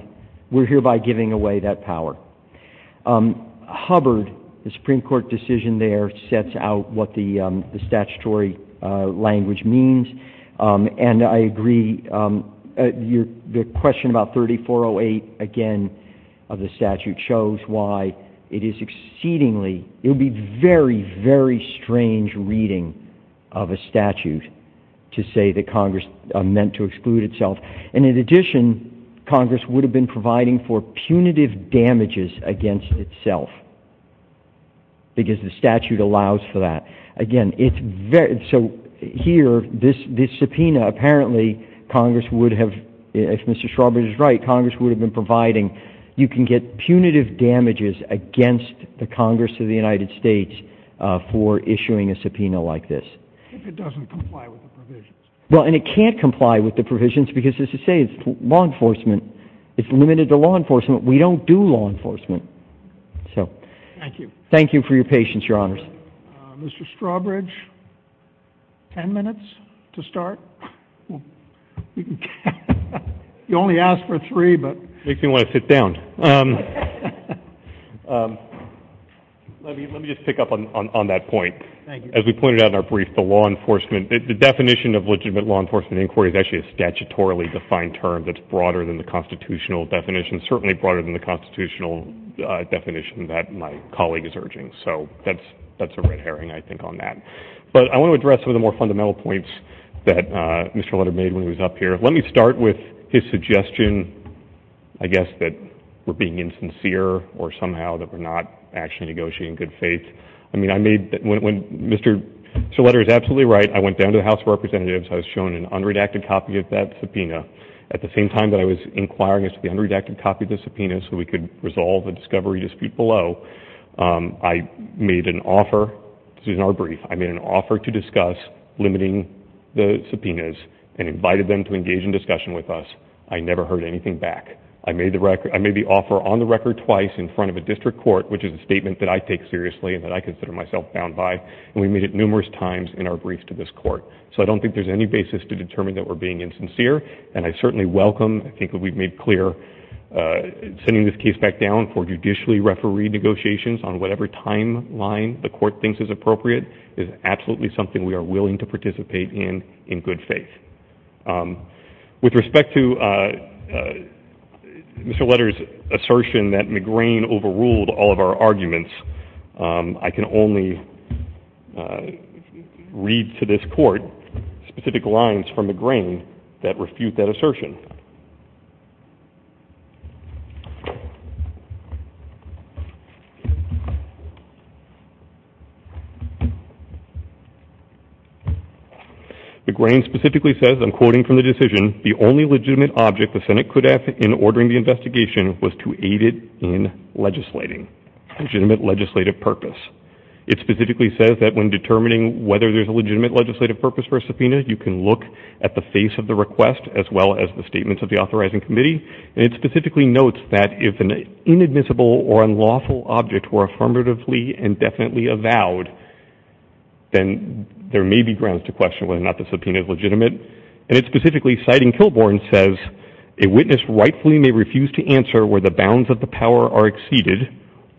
we're hereby giving away that power. Hubbard, the Supreme Court decision there, sets out what the statutory language means, and I agree, the question about 3408, again, of the statute shows why it is exceedingly, it would be very, very strange reading of a statute to say that Congress meant to exclude itself. In addition, Congress would have been providing for punitive damages against itself because the statute allows for that. Again, so here, this subpoena, apparently, Congress would have, if Mr. Sharbridge is right, Congress would have been providing, you can get punitive damages against the Congress of the United States for issuing a subpoena like this. If it doesn't comply with the provisions. Well, and it can't comply with the provisions because, as I say, it's law enforcement, it's limited to law enforcement, we don't do law enforcement. Thank you. Thank you for your patience, Your Honors. Mr. Strawbridge, 10 minutes to start? You only asked for three, but. Makes me want to sit down. Let me just pick up on that point. Thank you. As we pointed out in our brief, the law enforcement, the definition of legitimate law enforcement inquiry is actually a statutorily defined term that's broader than the constitutional definition, certainly broader than the constitutional definition that my colleague is urging. So that's a red herring, I think, on that. But I want to address some of the more fundamental points that Mr. Leder made when he was up here. Let me start with his suggestion, I guess, that we're being insincere or somehow that we're not actually negotiating in good faith. I mean, I made, Mr. Leder is absolutely right, I went down to the House of Representatives, I was shown an unredacted copy of that subpoena. At the same time that I was inquiring as to the unredacted copy of the subpoena so we could resolve a discovery dispute below, I made an offer, this is in our brief, I made an offer to discuss limiting the subpoenas and invited them to engage in discussion with us. I never heard anything back. I made the offer on the record twice in front of a district court, which is a statement that I take seriously and that I consider myself bound by, and we made it numerous times in our brief to this court. So I don't think there's any basis to determine that we're being insincere, and I certainly welcome, I think we've made clear, sending this case back down for judicially referee negotiations on whatever timeline the court thinks is appropriate is absolutely something we are willing to participate in in good faith. With respect to Mr. Leder's assertion that McGrain overruled all of our arguments, I can only read to this court specific lines from McGrain that refute that assertion. McGrain specifically says, according to the decision, the only legitimate object the Senate could have in ordering the investigation was to aid it in legislating. Legitimate legislative purpose. It specifically says that when determining whether there's a legitimate legislative purpose for a subpoena, you can look at the face of the request as well as the statements of the authorizing committee, and it specifically notes that if an inadmissible or unlawful object were affirmatively and definitely avowed, then there may be grounds to question whether or not the subpoena is legitimate, and it specifically, citing Kilbourn, says, a witness rightfully may refuse to answer where the bounds of the power are exceeded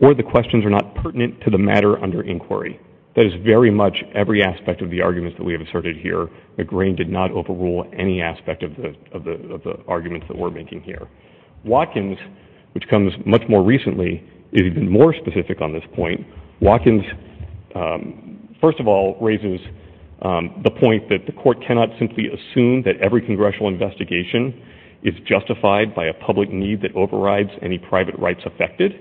or the questions are not pertinent to the matter under inquiry. That is very much every aspect of the arguments that we have asserted here. McGrain did not overrule any aspect of the arguments that we're making here. Watkins, which comes much more recently, is even more specific on this point. Watkins, first of all, raises the point that the court cannot simply assume that every congressional investigation is justified by a public need that overrides any private rights affected.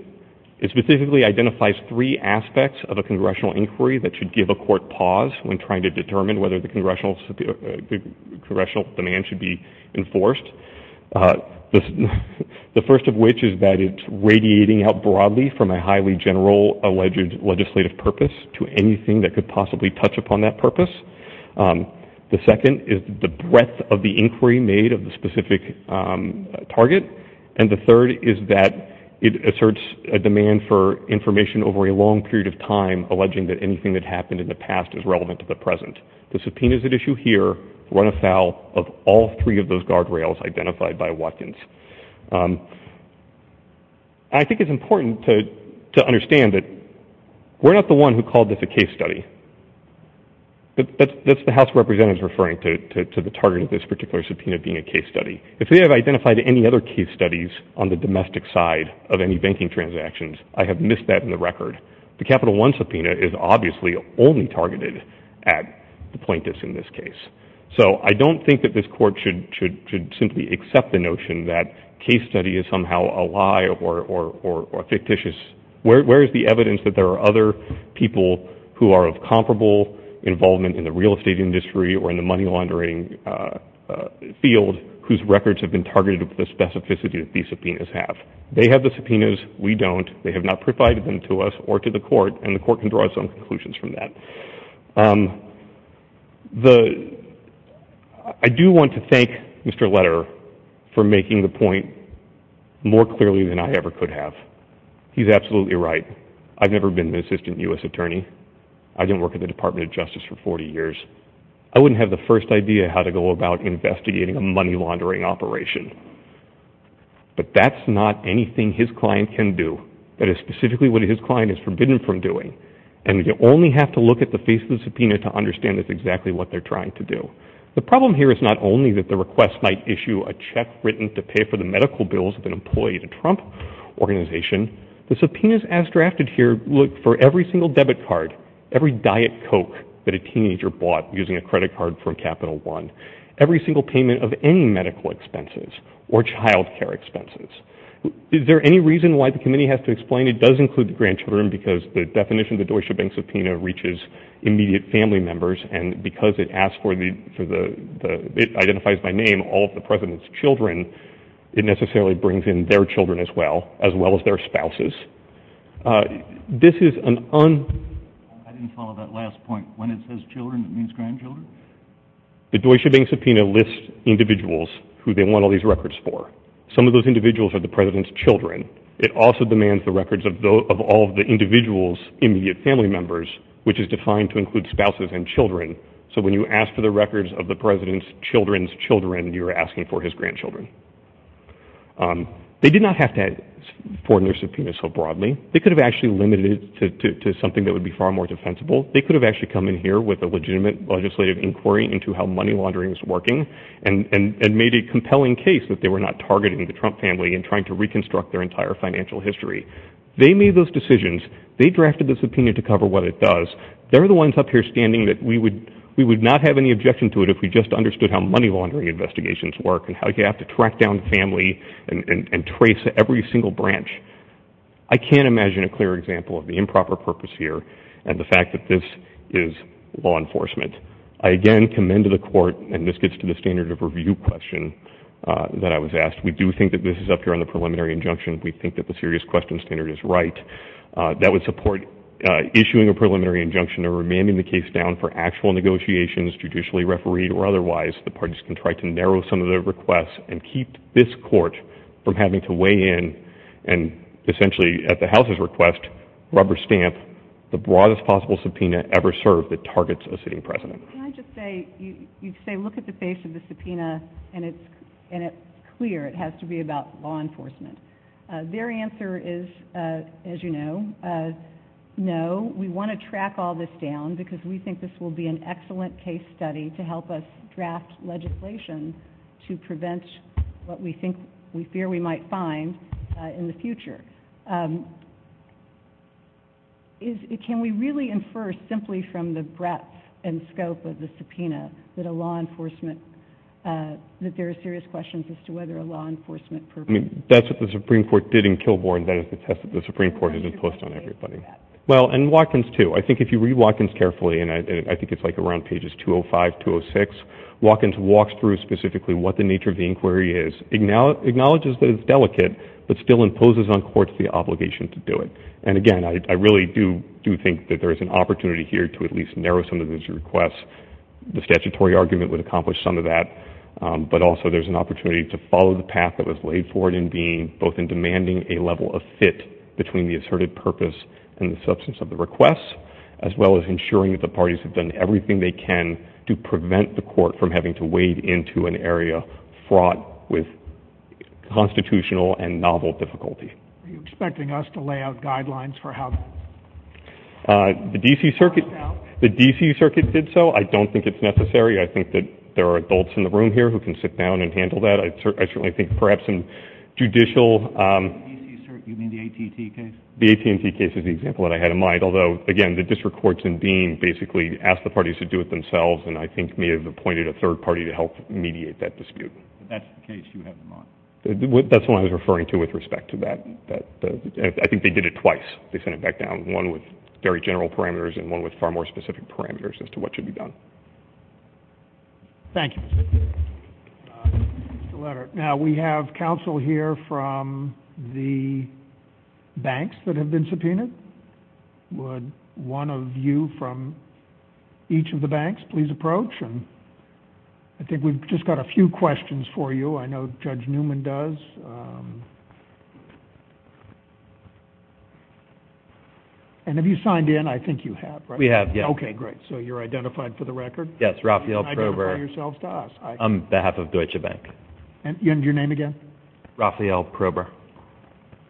It specifically identifies three aspects of a congressional inquiry that should give a court pause when trying to determine whether the congressional demand should be enforced, the first of which is that it's radiating out broadly from a highly general alleged legislative purpose to anything that could possibly touch upon that purpose. The second is the breadth of the inquiry made of the specific target, and the third is that it asserts a demand for information over a long period of time alleging that anything that happened in the past is relevant to the present. The subpoenas at issue here run afoul of all three of those guardrails identified by Watkins. I think it's important to understand that we're not the one who called this a case study. That's the House of Representatives referring to the target of this particular subpoena being a case study. If we have identified any other case studies on the domestic side of any banking transactions, I have missed that in the record. The Capital One subpoena is obviously only targeted at the plaintiffs in this case. So I don't think that this court should simply accept the notion that case study is somehow a lie or fictitious. Where is the evidence that there are other people who are of comparable involvement in the real estate industry or in the money laundering field whose records have been targeted with the specificity that these subpoenas have? They have the subpoenas. We don't. They have not provided them to us or to the court, and the court can draw its own conclusions from that. I do want to thank Mr. Letter for making the point more clearly than I ever could have. He's absolutely right. I've never been an assistant U.S. attorney. I didn't work at the Department of Justice for 40 years. I wouldn't have the first idea how to go about investigating a money laundering operation. But that's not anything his client can do. That is specifically what his client is forbidden from doing. And you only have to look at the face of the subpoena to understand exactly what they're trying to do. The problem here is not only that the request might issue a check written to pay for the medical bills of an employee at a Trump organization. The subpoenas as drafted here look for every single debit card, every Diet Coke that a teenager bought using a credit card from Capital One, every single payment of any medical expenses or child care expenses. Is there any reason why the committee has to explain it does include the grandchildren because the definition of the Deutsche Bank subpoena reaches immediate family members, and because it identifies by name all of the president's children, it necessarily brings in their children as well, as well as their spouses. This is an un... The Deutsche Bank subpoena lists individuals who they want all these records for. Some of those individuals are the president's children. It also demands the records of all of the individual's immediate family members, which is defined to include spouses and children. So when you ask for the records of the president's children's children, you're asking for his grandchildren. They did not have to form their subpoenas so broadly. They could have actually limited it to something that would be far more defensible. They could have actually come in here with a legitimate legislative inquiry into how money laundering is working, and made a compelling case that they were not targeting the Trump family and trying to reconstruct their entire financial history. They made those decisions. They drafted the subpoena to cover what it does. They're the ones up here standing that we would not have any objection to it if we just understood how money laundering investigations work and how you have to track down family and trace every single branch. I can't imagine a clear example of the improper purpose here and the fact that this is law enforcement. I again commend to the court, and this gets to the standard of review question that I was asked. We do think that this is up here on the preliminary injunction. We think that the serious questions standard is right. That would support issuing a preliminary injunction or remanding the case down for actual negotiations, judicially refereed or otherwise. The parties can try to narrow some of their requests and keep this court from having to weigh in and essentially at the House's request rubber stamp the broadest possible subpoena ever served that targets a sitting president. Can I just say, you say look at the face of the subpoena and it's clear it has to be about law enforcement. Their answer is, as you know, no. We want to track all this down because we think this will be an excellent case study to help us draft legislation to prevent what we fear we might find in the future. Can we really infer simply from the breadth and scope of the subpoena that there are serious questions as to whether a law enforcement purpose. That's what the Supreme Court did in Kilbourne but it's the test that the Supreme Court has imposed on everybody. Well, and Watkins too. I think if you read Watkins carefully, and I think it's like around pages 205-206, Watkins walks through specifically what the nature of the inquiry is, acknowledges that it's delicate but still imposes on courts the obligation to do it. And again, I really do think that there is an opportunity here to at least narrow some of these requests. The statutory argument would accomplish some of that but also there's an opportunity to follow the path that was laid forward both in demanding a level of fit between the asserted purpose and the substance of the request as well as ensuring that the parties have done everything they can to prevent the court from having to wade into an area fraught with constitutional and novel difficulty. Are you expecting us to lay out guidelines for how that works out? The D.C. Circuit did so. I don't think it's necessary. I think that there are adults in the room here who can sit down and handle that. I certainly think perhaps some judicial... The D.C. Circuit, you mean the AT&T case? The AT&T case is the example that I had in mind. Although, again, the district courts in being basically ask the parties to do it themselves and I think may have appointed a third party to help mediate that dispute. That's the case you have in mind? That's the one I was referring to with respect to that. I think they did it twice. They sent it back down. One with very general parameters and one with far more specific parameters as to what should be done. Thank you. Now we have counsel here from the banks that have been subpoenaed. Would one of you from each of the banks please approach? I think we've just got a few questions for you. I know Judge Newman does. And have you signed in? I think you have, right? We have, yes. Okay, great. So you're identified for the record? Yes, Raphael Prober, on behalf of Deutsche Bank. And your name again? Raphael Prober.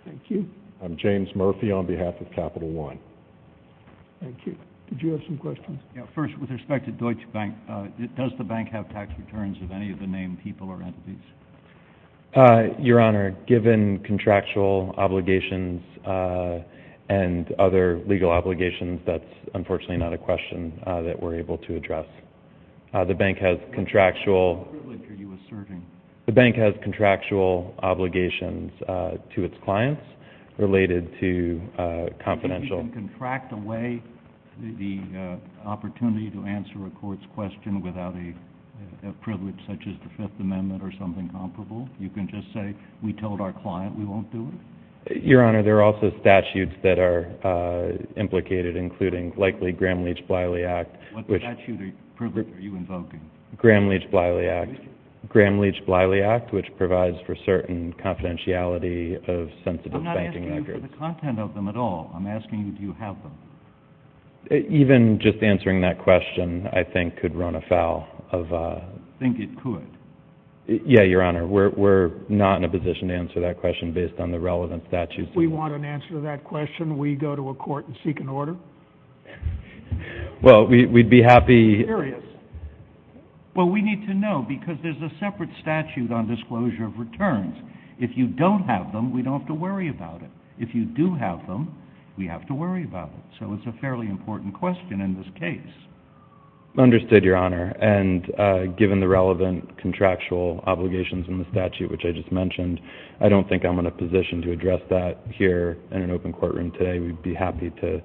Thank you. I'm James Murphy on behalf of Capital One. Thank you. Did you have some questions? First, with respect to Deutsche Bank, does the bank have tax returns of any of the main people or entities? Your Honor, given contractual obligations and other legal obligations, that's unfortunately not a question that we're able to address. The bank has contractual obligations to its clients related to confidential— Can you even contract away the opportunity to answer a court's question without a privilege such as the Fifth Amendment or something comparable? You can just say, we told our client we won't do it? Your Honor, there are also statutes that are implicated, including likely Gramm-Leach-Bliley Act, which— What statute or privilege are you invoking? Gramm-Leach-Bliley Act, which provides for certain confidentiality of sensitive banking records. I'm not asking you for the content of them at all. I'm asking you, do you have them? Even just answering that question, I think, could run afoul of— Think it could? Yeah, Your Honor. We're not in a position to answer that question based on the relevant statute. If we want an answer to that question, will you go to a court and seek an order? Well, we'd be happy— I'm curious. Well, we need to know, because there's a separate statute on disclosure of returns. If you don't have them, we don't have to worry about it. If you do have them, we have to worry about it. So it's a fairly important question in this case. Understood, Your Honor. And given the relevant contractual obligations in the statute, which I just mentioned, I don't think I'm in a position to address that here in an open courtroom today. We'd be happy to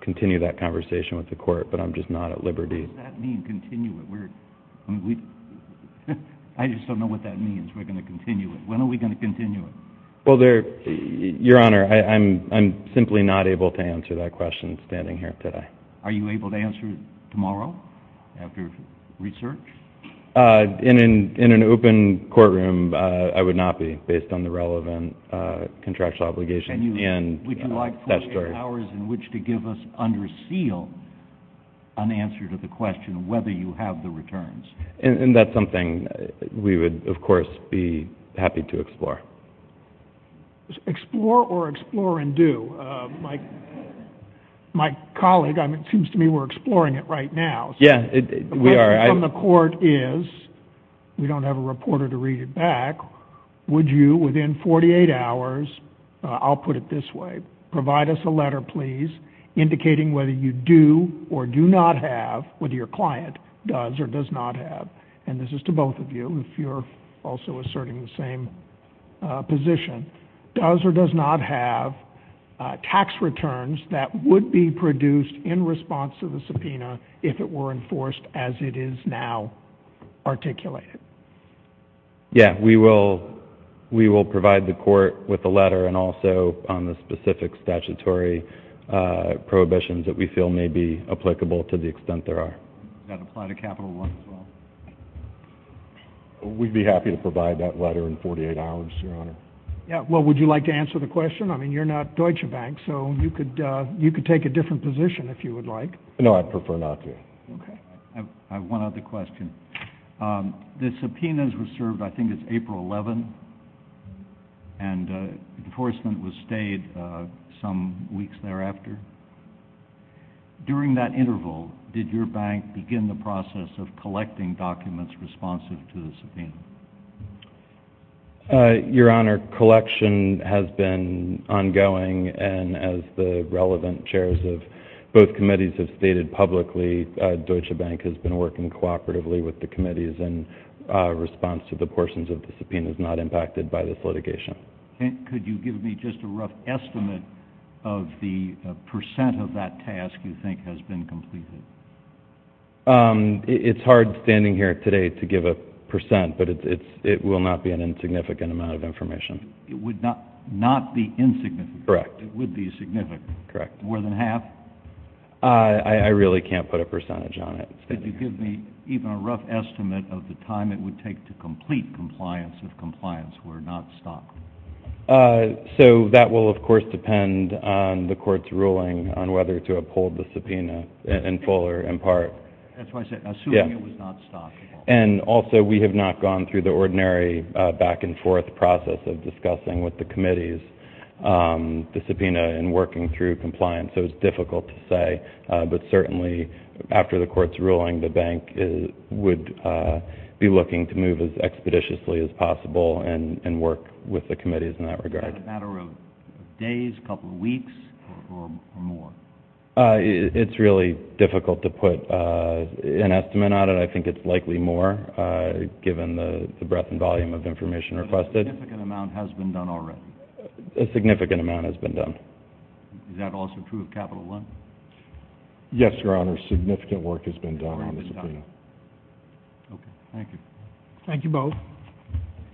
continue that conversation with the court, but I'm just not at liberty. What does that mean, continue it? I just don't know what that means, we're going to continue it. When are we going to continue it? Well, Your Honor, I'm simply not able to answer that question standing here today. Are you able to answer it tomorrow after research? In an open courtroom, I would not be, based on the relevant contractual obligations. Would you like 48 hours in which to give us, under seal, an answer to the question whether you have the returns? And that's something we would, of course, be happy to explore. Explore or explore and do. My colleague, it seems to me we're exploring it right now. Yeah, we are. The question from the court is, we don't have a reporter to read it back, would you, within 48 hours, I'll put it this way, provide us a letter, please, indicating whether you do or do not have, whether your client does or does not have, and this is to both of you if you're also asserting the same position, does or does not have tax returns that would be produced in response to the subpoena if it were enforced as it is now articulated? Yeah, we will provide the court with a letter and also on the specific statutory prohibitions that we feel may be applicable to the extent there are. That apply to Capital One as well? We'd be happy to provide that letter in 48 hours, Your Honor. Yeah, well, would you like to answer the question? I mean, you're not Deutsche Bank, so you could take a different position if you would like. No, I'd prefer not to. Okay. I have one other question. The subpoenas were served, I think it's April 11th, and enforcement was stayed some weeks thereafter. During that interval, did your bank begin the process of collecting documents responsive to the subpoena? Your Honor, collection has been ongoing, and as the relevant chairs of both committees have stated publicly, Deutsche Bank has been working cooperatively with the committees in response to the portions of the subpoenas not impacted by this litigation. Could you give me just a rough estimate of the percent of that task you think has been completed? It's hard standing here today to give a percent, but it will not be an insignificant amount of information. It would not be insignificant? Correct. It would be significant? Correct. More than half? I really can't put a percentage on it. Could you give me even a rough estimate of the time it would take to complete compliance if compliance were not stopped? So that will, of course, depend on the court's ruling on whether to uphold the subpoena in full or in part. That's why I said assuming it was not stopped. And also we have not gone through the ordinary back-and-forth process of discussing with the committees the subpoena and working through compliance, so it's difficult to say. But certainly after the court's ruling, the bank would be looking to move as expeditiously as possible and work with the committees in that regard. Is that a matter of days, a couple of weeks, or more? It's really difficult to put an estimate on it. I think it's likely more, given the breadth and volume of information requested. A significant amount has been done already? A significant amount has been done. Is that also true of Capital One? Yes, Your Honor, significant work has been done on this subpoena. Okay, thank you. Thank you both.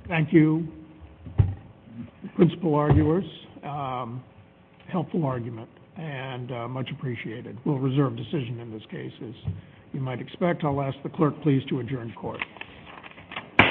Thank you, principal arguers. Helpful argument and much appreciated. We'll reserve decision in this case, as you might expect. I'll ask the clerk, please, to adjourn court.